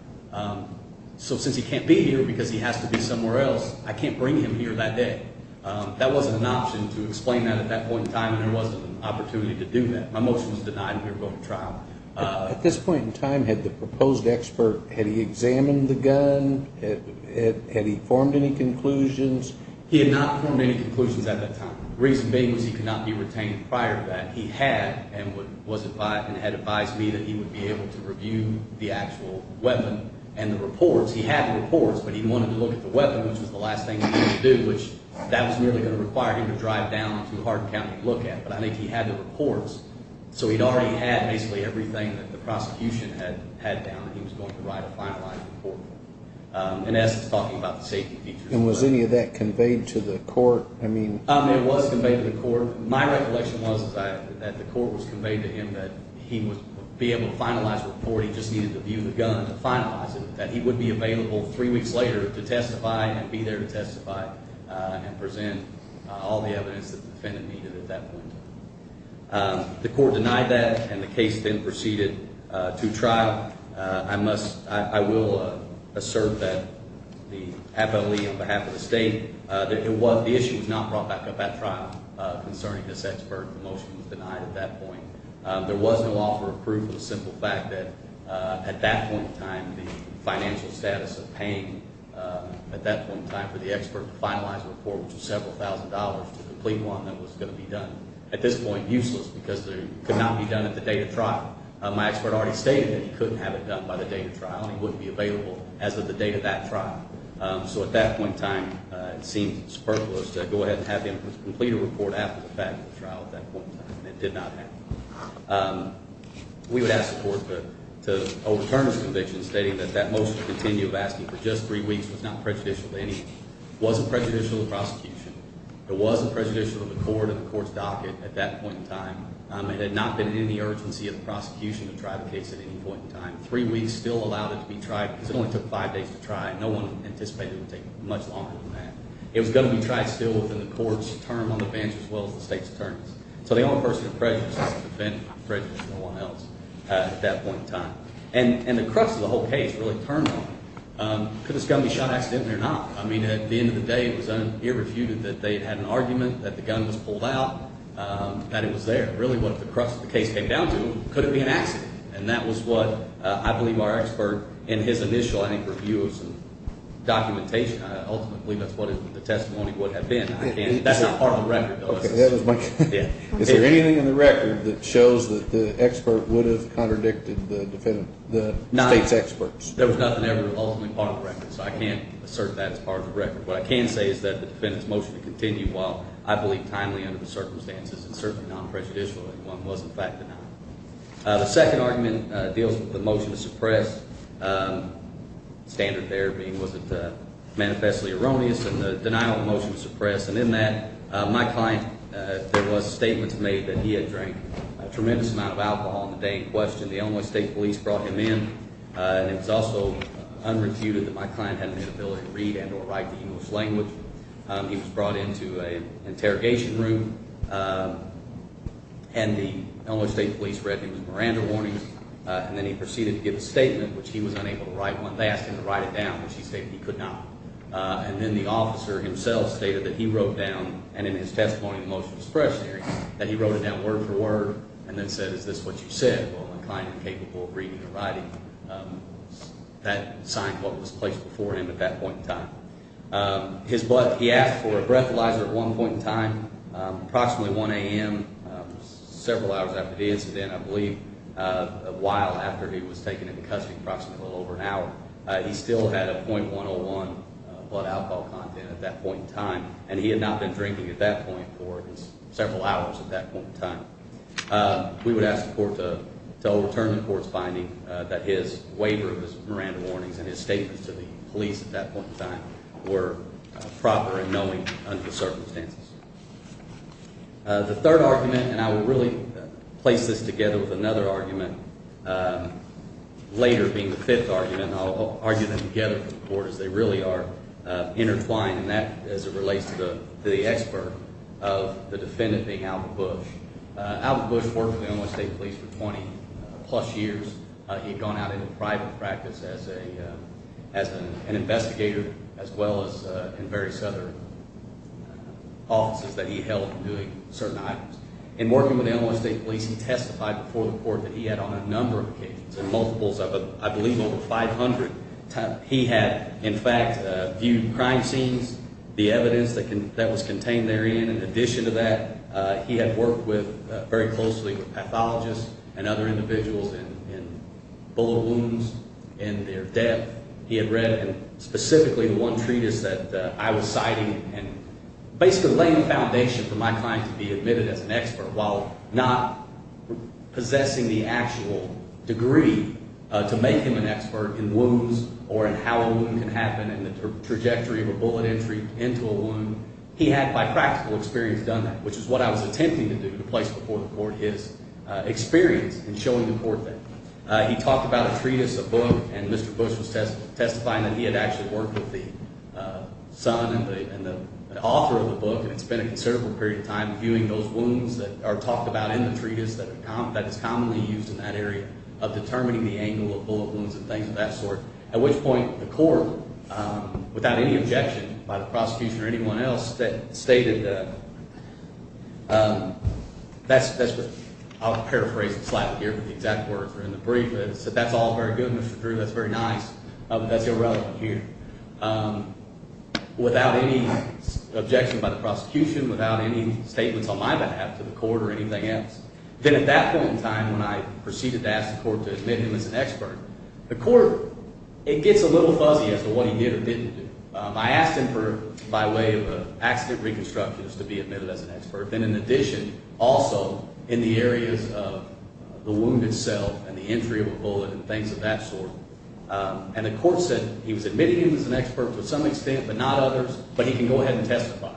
So since he can't be here because he has to be somewhere else, I can't bring him here that day. That wasn't an option to explain that at that point in time and there wasn't an opportunity to do that. My motion was denied and we were going to trial. At this point in time, had the proposed expert, had he examined the gun? Had he formed any conclusions? He had not formed any conclusions at that time. The reason being was he could not be retained prior to that. He had and had advised me that he would be able to review the actual weapon and the reports. He had the reports, but he wanted to look at the weapon, which was the last thing he needed to do, which that was really going to require him to drive down to Hardin County to look at it. But I think he had the reports, so he'd already had basically everything that the prosecution had down that he was going to write a fine line for. And as he was talking about the safety of these people. And was any of that conveyed to the court? It was conveyed to the court. My recollection was that the court was conveyed to him that he would be able to finalize the report. He just needed to view the gun and finalize it, that he would be available three weeks later to testify and present all the evidence that the defendant needed at that point. The court denied that, and the case then proceeded to trial. I will assert that, happily or perhaps at stake, that the issue was not brought back up at trial concerning this expert. The motion was denied at that point. There wasn't a law for approval. It was a simple fact that, at that point in time, the financial status of paying, at that point in time for the expert to finalize the report, which was several thousand dollars, to complete one that was going to be done. At this point, useless because it could not be done at the date of trial. My expert already stated that he couldn't have it done by the date of trial. It wouldn't be available as of the date of that trial. So at that point in time, it seemed superfluous to go ahead and have him complete a report after the fact at the trial at that point in time. It did not happen. We would ask the court to overturn the conviction, stating that that motion would be re-evaluated for just three weeks. It was not prejudicial to any. It wasn't prejudicial to prosecution. It was prejudicial to the court and the court's docket at that point in time. It had not been in the urgency of prosecution to try the case at any point in time. Three weeks still allowed it to be tried because it only took five days to try. No one anticipated it would take much longer than that. It was going to be tried still within the court's term on the bench as well as the state's term. So the only person who was prejudiced was no one else at that point in time. And the crux of the whole case was determined. Could this gun be shot accidentally or not? I mean, at the end of the day, it was irrefutable that they had an argument, that the gun was pulled out, that it was there. Really, what the crux of the case came down to was, could it be an accident? And that was what I believe our expert, in his initial, I think, review of documentation, ultimately, that's what the testimony would have been. That is part of the record, though. Is there anything in the record that shows that the expert would have contradicted the case experts? There was nothing ever ultimately part of the record. So I can't assert that as part of the record. What I can say is that the defense motion continued while, I believe, timely under the circumstances. And certainly no one prejudiced what the gun was, in fact. The second argument deals with the motion to suppress. The standard there being looked at as manifestly erroneous, and the denial of the motion to suppress. And in that, my client, there were statements made that he had drank a tremendous amount of alcohol on the day in question. The Illinois State Police brought him in. It was also unrefuted that my client had an inability to read and or write the U.S. language. He was brought into an interrogation room, and the Illinois State Police read him with Miranda warnings. And then he proceeded to give a statement that he was unable to write on that and to write it down. But she said he could not. And then the officer himself stated that he wrote down, and in his testimony, the motion to suppress, that he wrote it down word for word and then said, is this what you said? Well, my client didn't take it for a reading or writing. That time was placed before him at that point in time. He asked for a breathalyzer at one point in time, approximately 1 a.m., several hours after the incident, I believe. A while after he was taken into custody, approximately over an hour. He still had a .101 blood alcohol content at that point in time, and he had not been drinking at that point for several hours at that point in time. We would ask the court to overturn the court's finding that his waiver of his Miranda warnings and his statements to the police at that point in time were proper and knowing under circumstances. The third argument, and I will really place this together with another argument later being the fifth argument, and I'll argue them together with the court, is they really are intertwined, and that is in relation to the expert of the defendant being Albert Bush. Albert Bush worked with MSA police for 20-plus years. He had gone out into private practice as an investigator as well as in various other offices that he held in certain islands. In working with MSA police, he testified before the court that he had on a number of occasions, on multiples of, I believe, over 500 times. He had, in fact, viewed crime scenes, the evidence that was contained therein. In addition to that, he had worked very closely with pathologists and other individuals in bullet wounds and their death. He had read specifically the one treatise that I was citing, and based on laying the foundation in my mind to be admitted as an expert while not possessing the actual degree to make him an expert in wounds or in how a wound can happen and the trajectory of a bullet entry into a wound. He had, by practical experience, done that, which is what I was attempting to do to place before the court his experience in showing the court that. He talked about a treatise, a book, and Mr. Bush was testifying that he had actually worked with the son and the author of the book and spent a considerable period of time viewing those wounds that are talked about in the treatise that is commonly used in that area of determining the angle of bullet wounds and things of that sort, at which point the court, without any objection by the prosecution or anyone else, stated that, I'll paraphrase it slightly here, in the brief that that's all very good, Mr. Drew, that's very nice, but irrelevant here, without any objection by the prosecution, without any statement on my behalf to the court or anything else. Then at that point in time when I proceeded to ask the court to admit him as an expert, the court, it gets a little buggy as to what he did and didn't do. I asked him by way of an active reconstructionist to be admitted as an expert, and in addition, also in the area of the wound itself and the entry of a bullet and things of that sort. And the court said he was admitted as an expert to some extent, but not others, but he can go ahead and testify.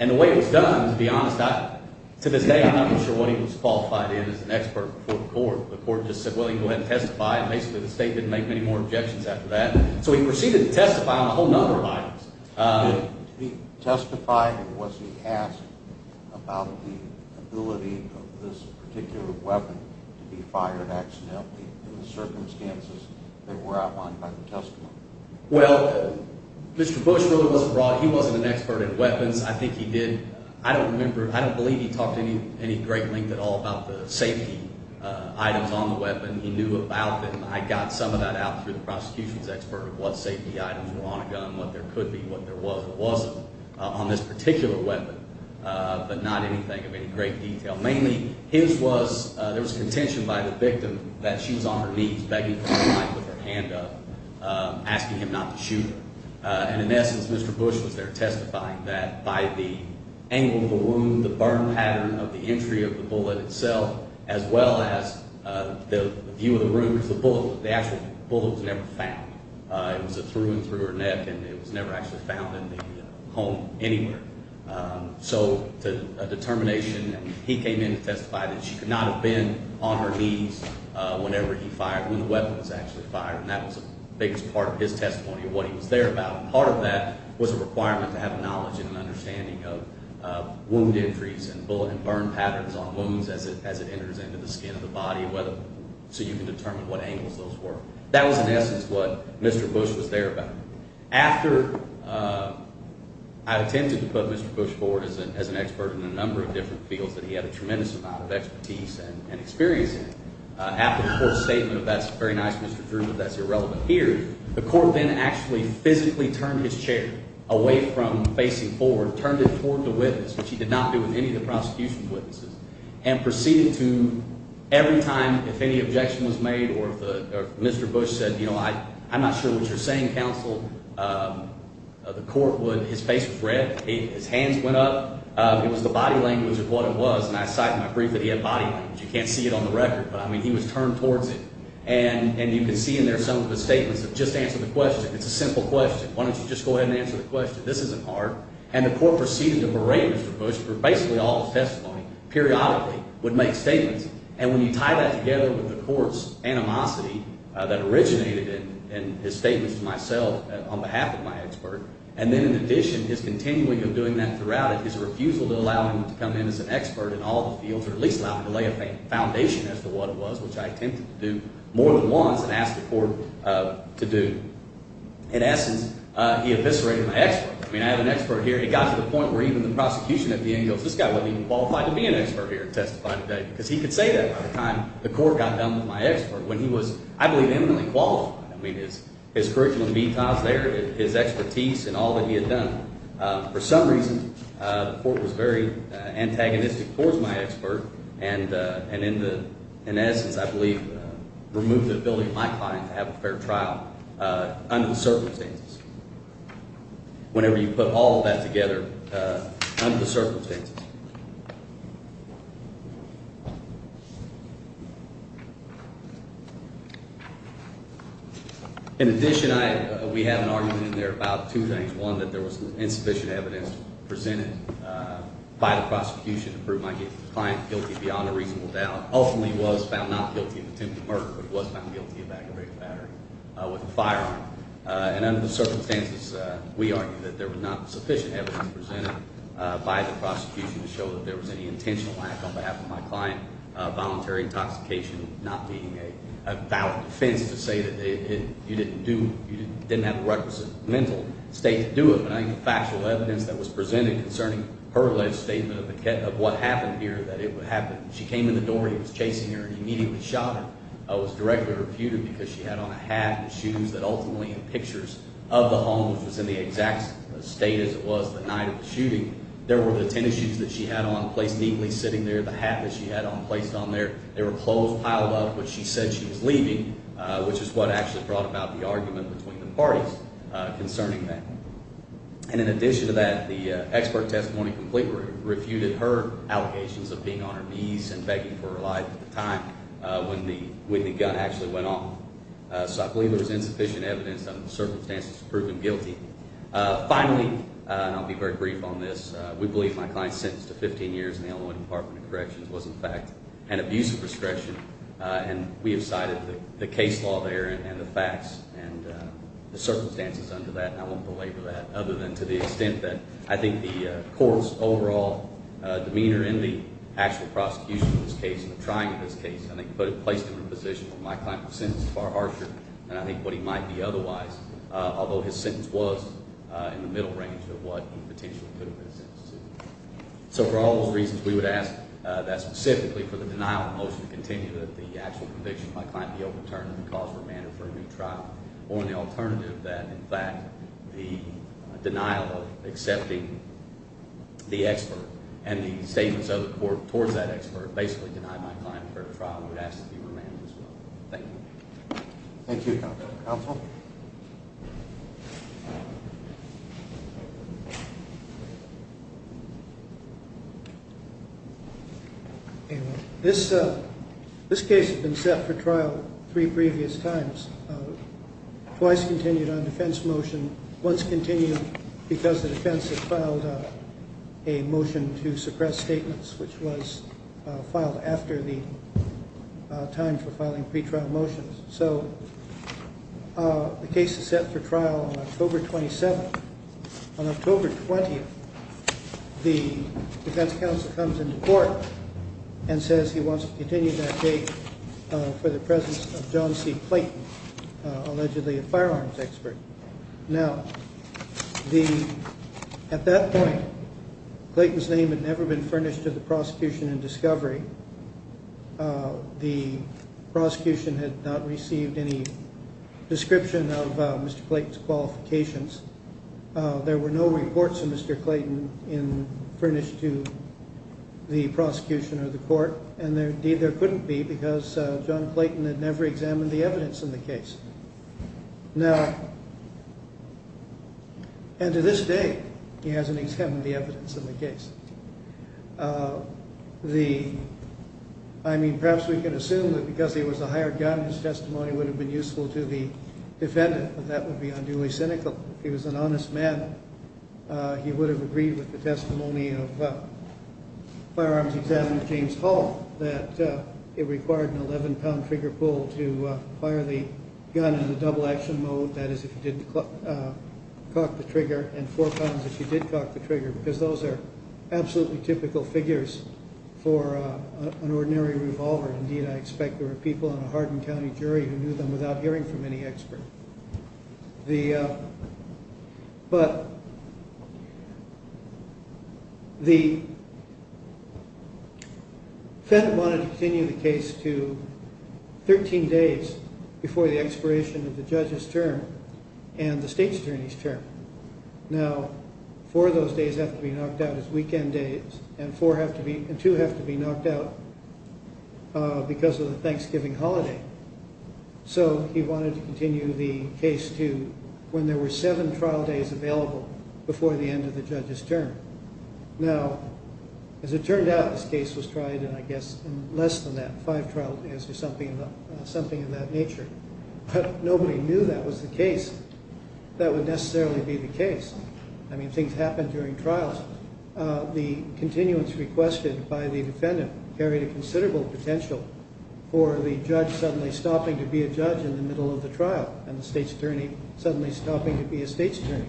And the way he was done was beyond that. To the day I'm not sure whether he was qualified in as an expert before the court. The court just said, well, he can go ahead and testify, and basically the state didn't make any more objections after that. So he proceeded to testify on a whole number of items. Did he testify, or was he asked about the ability of this particular weapon to be fired accidentally in the circumstances that were outlined by the testimony? Well, Mr. Bush, although he wasn't an expert in weapons, I think he did, I don't believe he talked any great length at all about the safety items on the weapon. He knew about them. I got some of that out through the prosecution's expert of what safety items were on a gun, what there could be, what there was, what wasn't on this particular weapon, but not anything of any great detail. Mainly, there was contention by the victim that she was on her knees. That didn't seem like what her hand does, acting him out to shoot her. And in essence, Mr. Bush was there testifying that by the angle of the wound, the burn pattern of the entry of the bullet itself, as well as the view of the room, the bullet was never found. It was through and through her neck, and it was never actually found in the home anywhere. So the determination that he came in to testify that she could not have been on her knees whenever he fired, when the weapon was actually fired, and that was the biggest part of his testimony of what he was there about. And part of that was a requirement to have knowledge and an understanding of wound injuries and bullet and burn patterns on wounds as it enters into the skin of the body, so he could determine what angles those were. That was, in essence, what Mr. Bush was there about. After I had attempted to put Mr. Bush forward as an expert in a number of different fields, and he had a tremendous amount of expertise and experience in it, after the court stated, well, that's very nice, Mr. Drew, but that's irrelevant here, the court then actually physically turned his chair away from facing forward, turned it toward the witness, which he did not do in any of the prosecution's witnesses, and proceeded to, every time if any objection was made or Mr. Bush said, you know, I'm not sure what you're saying, counsel, the court would, his face was red, his hands went up. It was the body language of what it was, and I excite and agree that he had body language. You can't see it on the record, but, I mean, he was turned toward it, and you can see in there some of the statements of just answer the question. It's a simple question. Why don't you just go ahead and answer the question? This isn't hard. And the court proceeded to berate Mr. Bush for basically all his testimony periodically, would make statements, and when you tie that together with the court's animosity that originated in his statement to myself on behalf of my expert, and then in addition his continuing of doing that throughout, his refusal to allow him to come in as an expert in all of the fields, or at least allow him to lay a foundation as to what it was, which I attempted to do more than once and asked the court to do. In essence, he eviscerated my expert. I mean, I have an expert here. It got to the point where even the prosecution at the end goes, this guy wasn't even qualified to be an expert here in testifying today, because he could say that by the time the court got done with my expert, when he was, I believe, infinitely qualified. I mean, his curriculum details there, his expertise in all that he had done. For some reason, the court was very antagonistic towards my expert, and in essence, I believe, removed the ability of my client to have a fair trial under the circumstances, whenever you put all of that together under the circumstances. In addition, we had an argument in there about two things. One, that there was insufficient evidence presented by the prosecution to prove my client guilty beyond a reasonable doubt, ultimately was found not guilty of attempted murder, but he was found guilty of aggravated battery with a firearm. And under the circumstances, we argued that there was not sufficient evidence presented by the prosecution to show that there was any intentional acts on behalf of my client, voluntary intoxication not being a valid offense, you didn't have the requisite legal state to do it. I mean, there was factual evidence that was presented concerning her alleged statement of what happened here, that it would happen. She came in the door, he was chasing her, and he immediately shot her. I was directly refuted, because she had on a hat and shoes, but ultimately in pictures of the home, it was in the exact status of the night of the shooting, there were the tennis shoes that she had on, neatly sitting there, the hat that she had on, placed on there. There were clothes piled up which she said she was leaving, which is what actually brought about the argument between the parties concerning that. And in addition to that, the expert testimony from Cleaver refuted her allegations of being on her knees and begging for her life at the time when the gun actually went off. So I believe there was insufficient evidence under the circumstances to prove him guilty. Finally, and I'll be very brief on this, we believe my client's sentence to 15 years in the Illinois Department of Corrections was in fact an abuse of discretion, and we have cited the case law there and the facts and the circumstances under that, and I won't go into that, other than to the extent that I think the court's overall demeanor in the actual prosecution of this case, of trying this case, I think both placed him in a position where my client's sentence was far harsher than I think what he might be otherwise, although his sentence was in the middle range of what he potentially could have been sentenced to. So for all those reasons, we would ask that specifically, for the denial mostly contingent of the actual conviction, my client be overturned and caused to remain in a further trial. Only alternative to that, in fact, the denial of accepting the expert, and the statements of the court toward that expert basically denied my client a further trial, and we'd ask that he remain in this trial. Thank you. Thank you, Counsel. This case has been set for trial three previous times, twice continued on defense motion, once continued because the defense has filed a motion to suppress statements, which was filed after the time for filing pretrial motions. So the case is set for trial on October 27th. On October 20th, the defense counsel comes into court and says he wants to continue that case for the presence of John C. Clayton, allegedly a firearms expert. Now, at that point, Clayton's name had never been furnished to the prosecution in discovery. The prosecution had not received any description of Mr. Clayton's qualifications. There were no reports of Mr. Clayton furnished to the prosecution or the court, and there couldn't be because John Clayton had never examined the evidence in the case. Now, and to this day, he hasn't examined the evidence in the case. I mean, perhaps we can assume that because he was a hired gun, his testimony would have been useful to the defendant, but that would be unduly cynical. If he was an honest man, he would have agreed with the testimony of firearms examiner James Hall, that it required an 11-pound trigger pull to fire the gun in the double-action mode, that is, if he didn't cock the trigger, and four pounds if he did cock the trigger, because those are absolutely typical figures for an ordinary revolver. Indeed, I expect there are people in the Hardin County jury who knew them without hearing from any expert. But the Senate wanted to continue the case to 13 days before the expiration of the judge's term and the state's attorney's term. Now, four of those days have to be knocked out as weekend days, and two have to be knocked out because of the Thanksgiving holiday. So he wanted to continue the case to when there were seven trial days available before the end of the judge's term. Now, as it turned out, this case was tried in, I guess, less than that, five trial days or something of that nature. But nobody knew that was the case. That would necessarily be the case. I mean, things happen during trials. The continuance requested by the defendant carried considerable potential for the judge suddenly stopping to be a judge in the middle of the trial and the state's attorney suddenly stopping to be a state's attorney.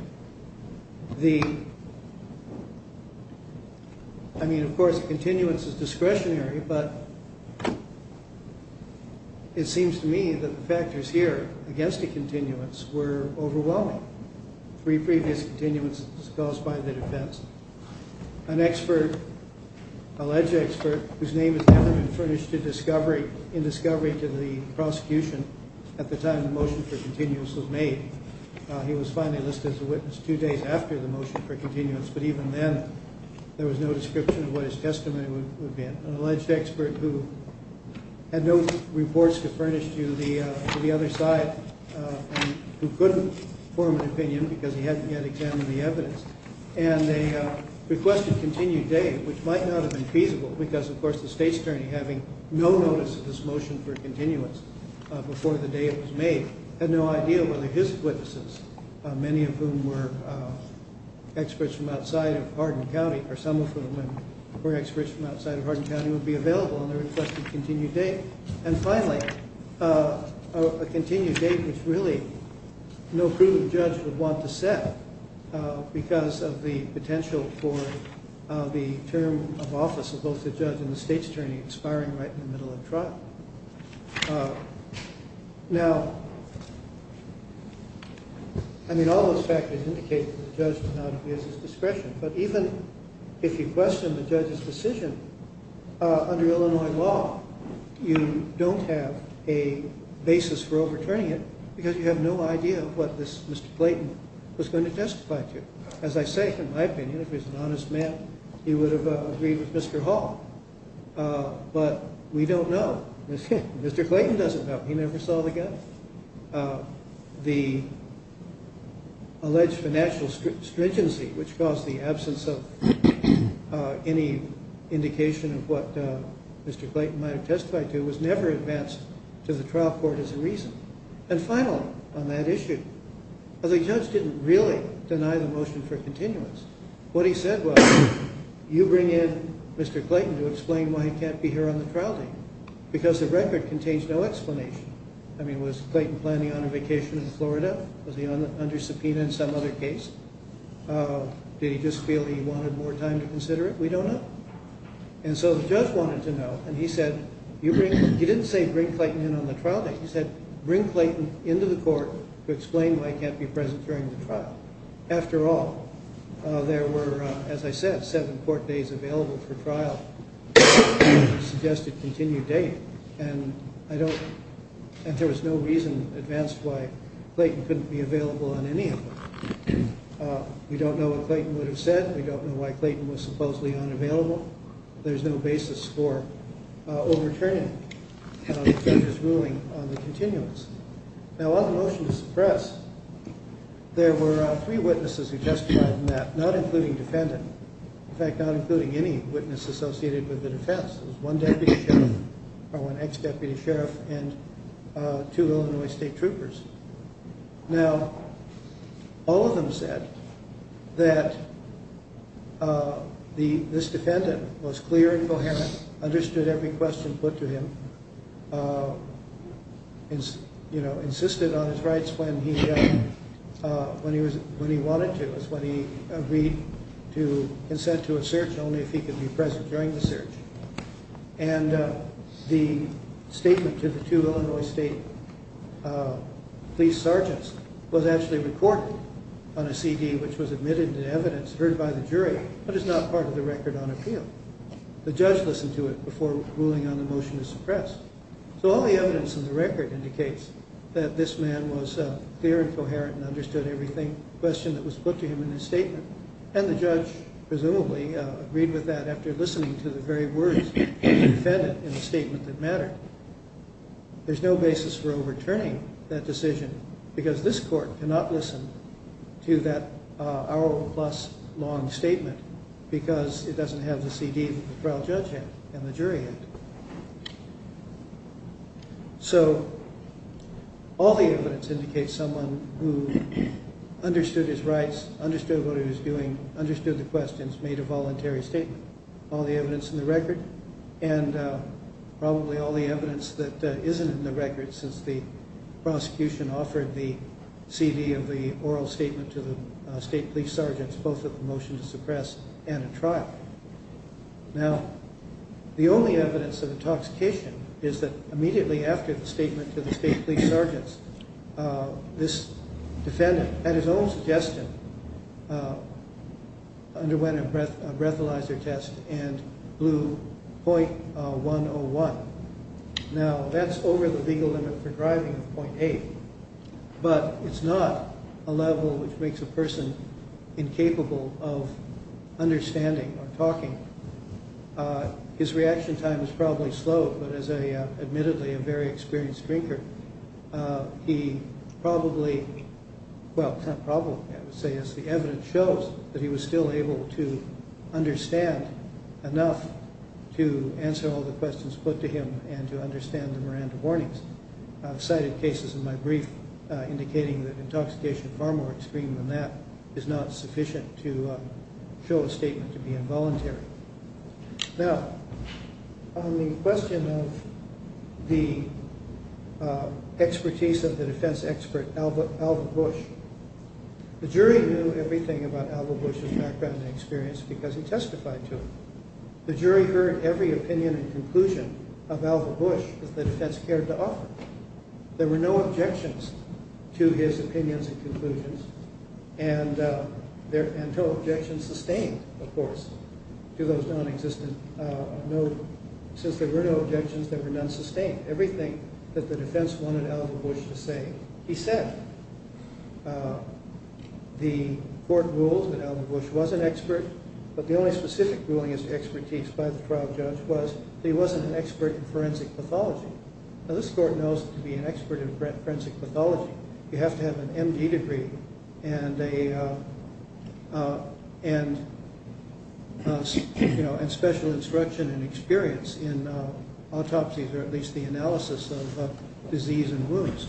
I mean, of course, continuance is discretionary, but it seems to me that the factors here against the continuance were overwhelming. Three previous continuances caused by the defense. An alleged expert whose name has never been furnished in discovery to the prosecution at the time the motion for continuance was made. He was finally listed as a witness two days after the motion for continuance, but even then there was no description of what his testimony would be. An alleged expert who had no reports furnished to the other side and who couldn't form an opinion because he hadn't yet examined the evidence. And they requested continued data, which might not have been feasible because, of course, the state's attorney having no notice of this motion for continuance before the data was made had no idea whether his witnesses, many of whom were experts from outside of Hardin County, or some of whom were experts from outside of Hardin County, would be available. And they requested continued data. And finally, a continued data is really no free will the judge would want to set because of the potential for the term of office of both the judge and the state's attorney expiring right in the middle of trial. I mean, all those factors indicate that the judge did not use his discretion. But even if you question the judge's decision under Illinois law, you don't have a basis for overturning it because you have no idea of what Mr. Clayton was going to testify to. As I say, in my opinion, if it was an honest man, he would have agreed with Mr. Hall. But we don't know. Mr. Clayton doesn't know. He never saw the guy. The alleged financial stringency, which caused the absence of any indication of what Mr. Clayton might have testified to, was never advanced to the trial court as a reason. And finally, on that issue, the judge didn't really deny the motion for continuous. What he said was, you bring in Mr. Clayton to explain why he can't be here on the trial date because the record contains no explanation. I mean, was Clayton planning on a vacation to Florida? Was he under subpoena in some other case? Did he just feel he wanted more time to consider it? We don't know. And so the judge wanted to know, and he said, he didn't say bring Clayton in on the trial date. He said, bring Clayton into the court to explain why he can't be present during the trial. After all, there were, as I said, seven court days available for trial. He suggested continued date, and there was no reason advanced why Clayton couldn't be available in any of them. We don't know what Clayton would have said. We don't know why Clayton was supposedly unavailable. There's no basis for overturning his ruling on the continuous. Now, while the motion is suppressed, there were three witnesses who testified on that, not including defendant. In fact, not including any witness associated with the defense. There was one deputy sheriff and two Illinois state troopers. Now, all of them said that this defendant was clear and perhaps understood every question put to him, insisted on his rights when he wanted to. That is, when he agreed to consent to a search only if he could be present during the search. And the statement that the two Illinois state police sergeants was actually recorded on a CD which was admitted as evidence heard by the jury. That is not part of the record on appeal. The judge listened to it before ruling on the motion to suppress. So all the evidence in the record indicates that this man was clear and coherent and understood every question that was put to him in his statement. And the judge presumably agreed with that after listening to the very words of the defendant in the statement that mattered. There's no basis for overturning that decision, because this court cannot listen to that hour-plus long statement because it doesn't have the CD with the trial judge in it and the jury in it. So all the evidence indicates someone who understood his rights, understood what he was doing, understood the questions, made a voluntary statement. All the evidence in the record, and probably all the evidence that isn't in the record since the prosecution offered the CD of the oral statement to the state police sergeants, both of the motion to suppress and the trial. Now, the only evidence of intoxication is that immediately after the statement to the state police sergeants, this defendant, at his own suggestion, underwent a breathalyzer test and blew 0.101. Now, that's over the legal limit for driving, 0.8, but it's not a level which makes a person incapable of understanding or talking. His reaction time is probably slow, but as admittedly a very experienced drinker, he probably, well, probably, I would say, as the evidence shows, that he was still able to understand enough to answer all the questions put to him and to understand the Miranda warnings. I've cited cases in my brief indicating that intoxication is far more extreme than that. It's not sufficient to show a statement to be involuntary. Now, on the question of the expertise of the defense expert, Albert Bush, the jury knew everything about Albert Bush's life-threatening experience because he testified to it. The jury heard every opinion and conclusion of Albert Bush that the defense cared to offer. There were no objections to his opinions and conclusions. And there were no objections sustained, of course, to those non-existent notes. Since there were no objections, there were none sustained. Everything that the defense wanted Albert Bush to say, he said. The court ruled that Albert Bush was an expert, but the only specific ruling as to expertise by the trial judge was that he wasn't an expert in forensic pathology. Now, this court knows that to be an expert in forensic pathology, you have to have an MD degree and special instruction and experience in autopsies, or at least the analysis of disease and wounds.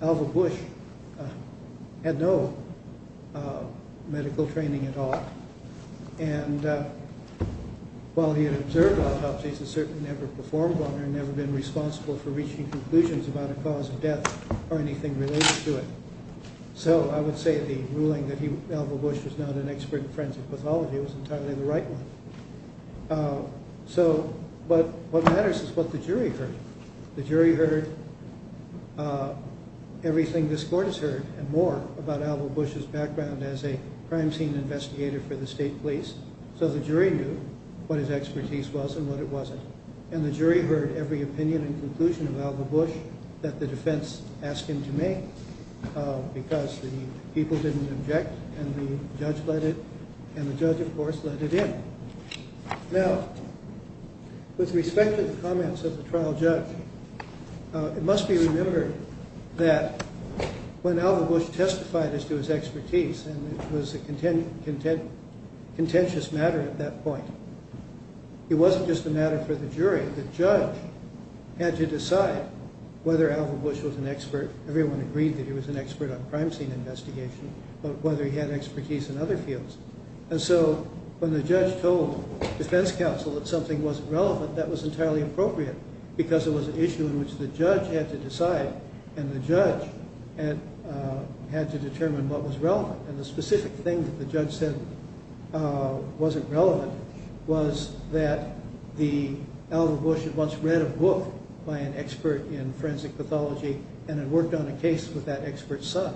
Albert Bush had no medical training at all. And while he had observed autopsies, he certainly never performed one and never been responsible for reaching conclusions about a cause of death or anything related to it. So I would say the ruling that Albert Bush was not an expert in forensic pathology was entirely the right one. But what matters is what the jury heard. The jury heard everything this court has heard and more about Albert Bush's background as a crime scene investigator for the state police. So the jury knew what his expertise was and what it wasn't. And the jury heard every opinion and conclusion of Albert Bush that the defense asked him to make, because the people didn't object and the judge let it, and the judge, of course, let it in. Now, with respect to the comments of the trial judge, it must be remembered that when Albert Bush testified as to his expertise, it was a contentious matter at that point. It wasn't just a matter for the jury. The judge had to decide whether Albert Bush was an expert. Everyone agreed that he was an expert on crime scene investigation, but whether he had expertise in other fields. And so when the judge told the defense counsel that something wasn't relevant, that was entirely appropriate, because it was an issue in which the judge had to decide, and the judge had to determine what was relevant. And the specific thing that the judge said wasn't relevant was that Albert Bush had once read a book by an expert in forensic pathology and had worked on a case with that expert's son,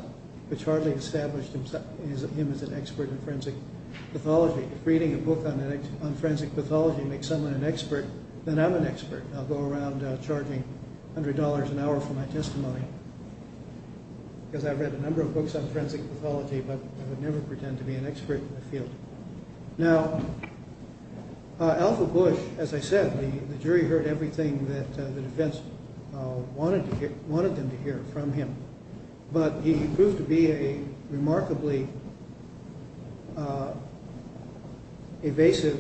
which hardly established himself because he was an expert in forensic pathology. If reading a book on forensic pathology makes someone an expert, then I'm an expert. I'll go around charging $100 an hour for my testimony, because I've read a number of books on forensic pathology, but I would never pretend to be an expert in that field. Now, Albert Bush, as I said, the jury heard everything that the defense wanted them to hear from him. But he proved to be a remarkably evasive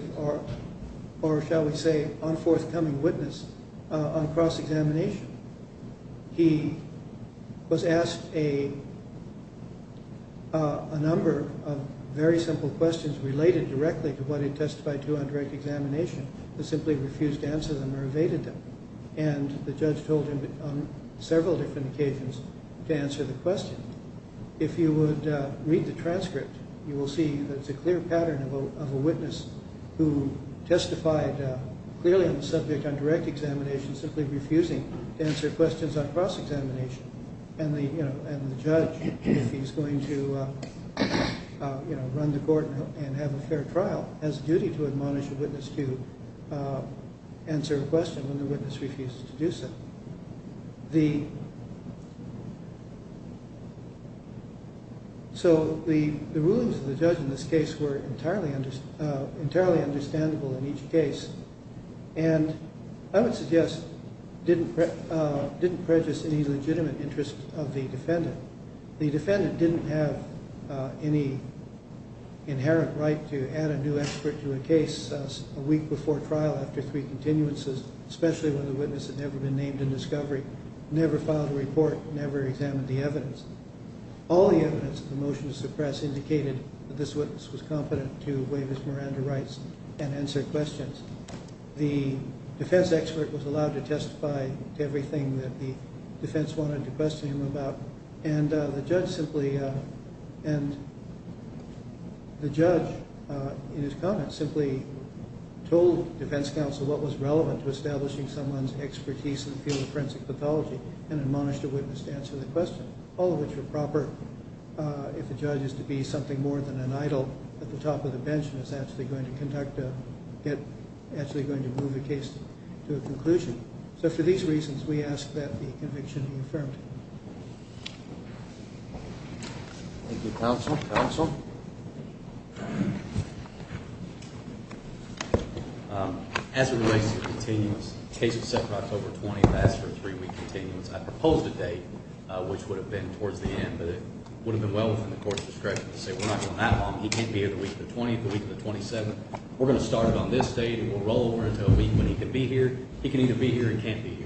or, shall we say, unforthcoming witness on cross-examination. He was asked a number of very simple questions related directly to what he testified to on direct examination, but simply refused to answer them or evaded them. And the judge told him on several different occasions to answer the questions. If you would read the transcript, you will see there's a clear pattern of a witness who testified clearly on the subject on direct examination, simply refusing to answer questions on cross-examination. And the judge, if he's going to run the court and have a fair trial, has a duty to admonish a witness to answer a question when the witness refuses to do so. So the rulings of the judge in this case were entirely understandable in each case. And I would suggest didn't prejudice any legitimate interest of the defendant. The defendant didn't have any inherent right to add a new expert to a case a week before trial after three continuances, especially when the witness had never been named in discovery, never filed a report, never examined the evidence. All the evidence of the motion to suppress indicated that this witness was confident to waive his Miranda rights and answer questions. The defense expert was allowed to testify to everything that the defense wanted to question him about. And the judge, in his comments, simply told the defense counsel what was relevant to establishing someone's expertise in the field of forensic pathology and admonish the witness to answer the question, all of which would be proper if the judge is to be something more than an idol at the top of the bench and is actually going to move the case to a conclusion. So for these reasons, we ask that the conviction be affirmed. Thank you, counsel. Counsel? As the ruling continues, take except for October 20th as your three-week continuance, I propose which would have been well within the court's discretion to say, we're not going that long. He can't be able to reach the 23th, the 27th. We're going to start it on this day. We'll roll over until a week when he can be here. He can either be here or he can't be here.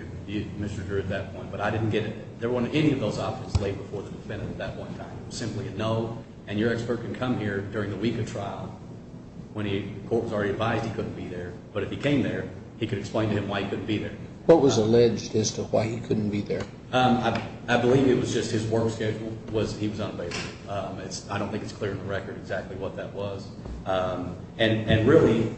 But I didn't get it. There wasn't any of those options today before the defendant at that point in time. It was simply a no. And your expert could come here during the week of trial when the court was already advised he couldn't be there. But if he came there, he could explain to him why he couldn't be there. What was alleged as to why he couldn't be there? I believe it was just his work schedule. He was on leave. I don't think it's clear on the record exactly what that was. And really,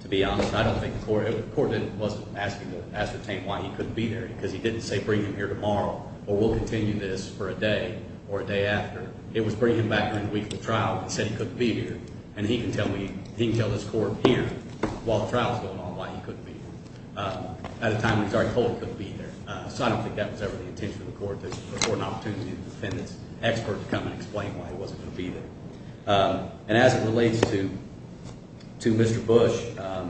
to be honest, I don't think the court was asking to ascertain why he couldn't be there. Because he didn't say, bring him here tomorrow, or we'll continue this for a day or a day after. It was bringing him back in the week of trial and said he couldn't be here. And he can tell this court here while the trial is going on why he couldn't be there. At the time he was already told he couldn't be there. So I don't think that was ever the intention of the court. This was before an opportunity for the defendant's expert to come and explain why he wasn't going to be there. And as it relates to Mr. Bush, I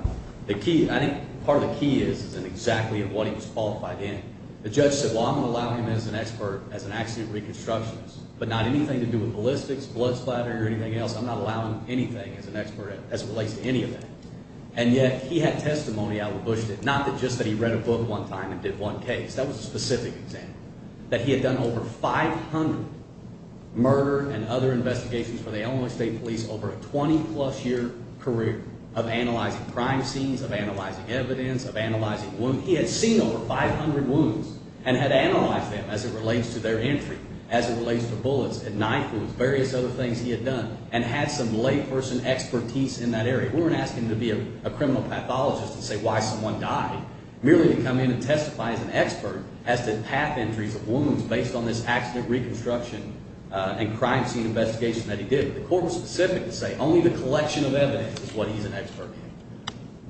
think part of the key is in exactly what he was qualified in. The judge said, well, I'm allowing him as an expert as an accident reconstructionist, but not anything to do with ballistics, blood splatter, or anything else. I'm not allowing him anything as an expert as it relates to any of that. And yet, he had testimony out of Bush that not just that he read a book one time and did one case. That was a specific example, that he had done over 500 murder and other investigations for the Illinois State Police over a 20-plus year career of analyzing crime scenes, of analyzing evidence, of analyzing wounds. He had seen over 500 wounds and had analyzed them as it relates to their entry, as it relates to bullets, and knife wounds, various other things he had done, and had some layperson expertise in that area. We weren't asking him to be a criminal pathologist to say why someone died. Merely to come in and testify as an expert as to path injuries of wounds based on this accident reconstruction and crime scene investigation that he did. The court was specific to say, only the collection of evidence is what he's an expert in.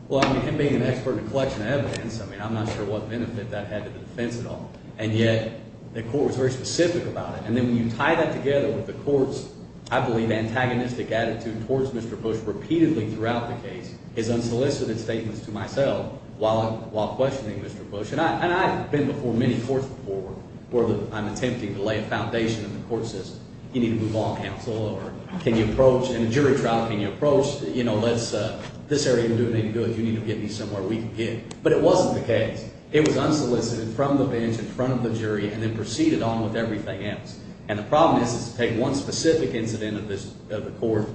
Well, he can be an expert in the collection of evidence. I mean, I'm not sure what benefit that had to defense at all. And yet, the court was very specific about it. And then when you tie that together with the court's, I believe, antagonistic attitude towards Mr. Bush repeatedly throughout the case, it's unsolicited statements to myself while questioning Mr. Bush. And I've been before many courts before, where I'm attempting to lay a foundation in the court system. You need to move all counsel over. Can you approach in a jury trial, can you approach, you know, this area isn't doing any good. You need to get me somewhere we can get. But it wasn't the case. It was unsolicited from the bench, in front of the jury, and then proceeded on with everything else. And the problem is, to take one specific incident of the court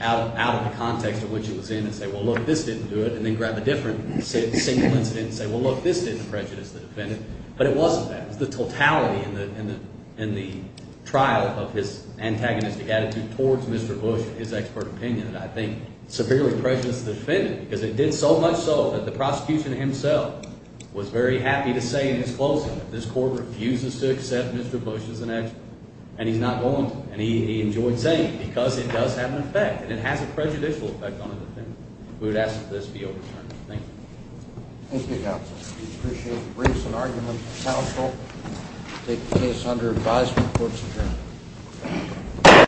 out of the context of which it was in and say, well, look, this didn't do it. And then grab a different single incident and say, well, look, this didn't prejudice the defendant. But it wasn't that. The totality in the trial of his antagonistic attitude towards Mr. Bush, his expert opinion, I think, severely prejudiced the defendant. Because it did so much so that the prosecution himself was very happy to say in his closing that this court refuses to accept Mr. Bush as an expert. And he's not going to. And he enjoys saying it. Because it does have an effect. And it has a prejudicial effect on the defendant. We would ask that this be overturned. Thank you. Thank you, Your Honor. We appreciate the briefs and arguments from counsel. The case is under advisory of the court's appearance.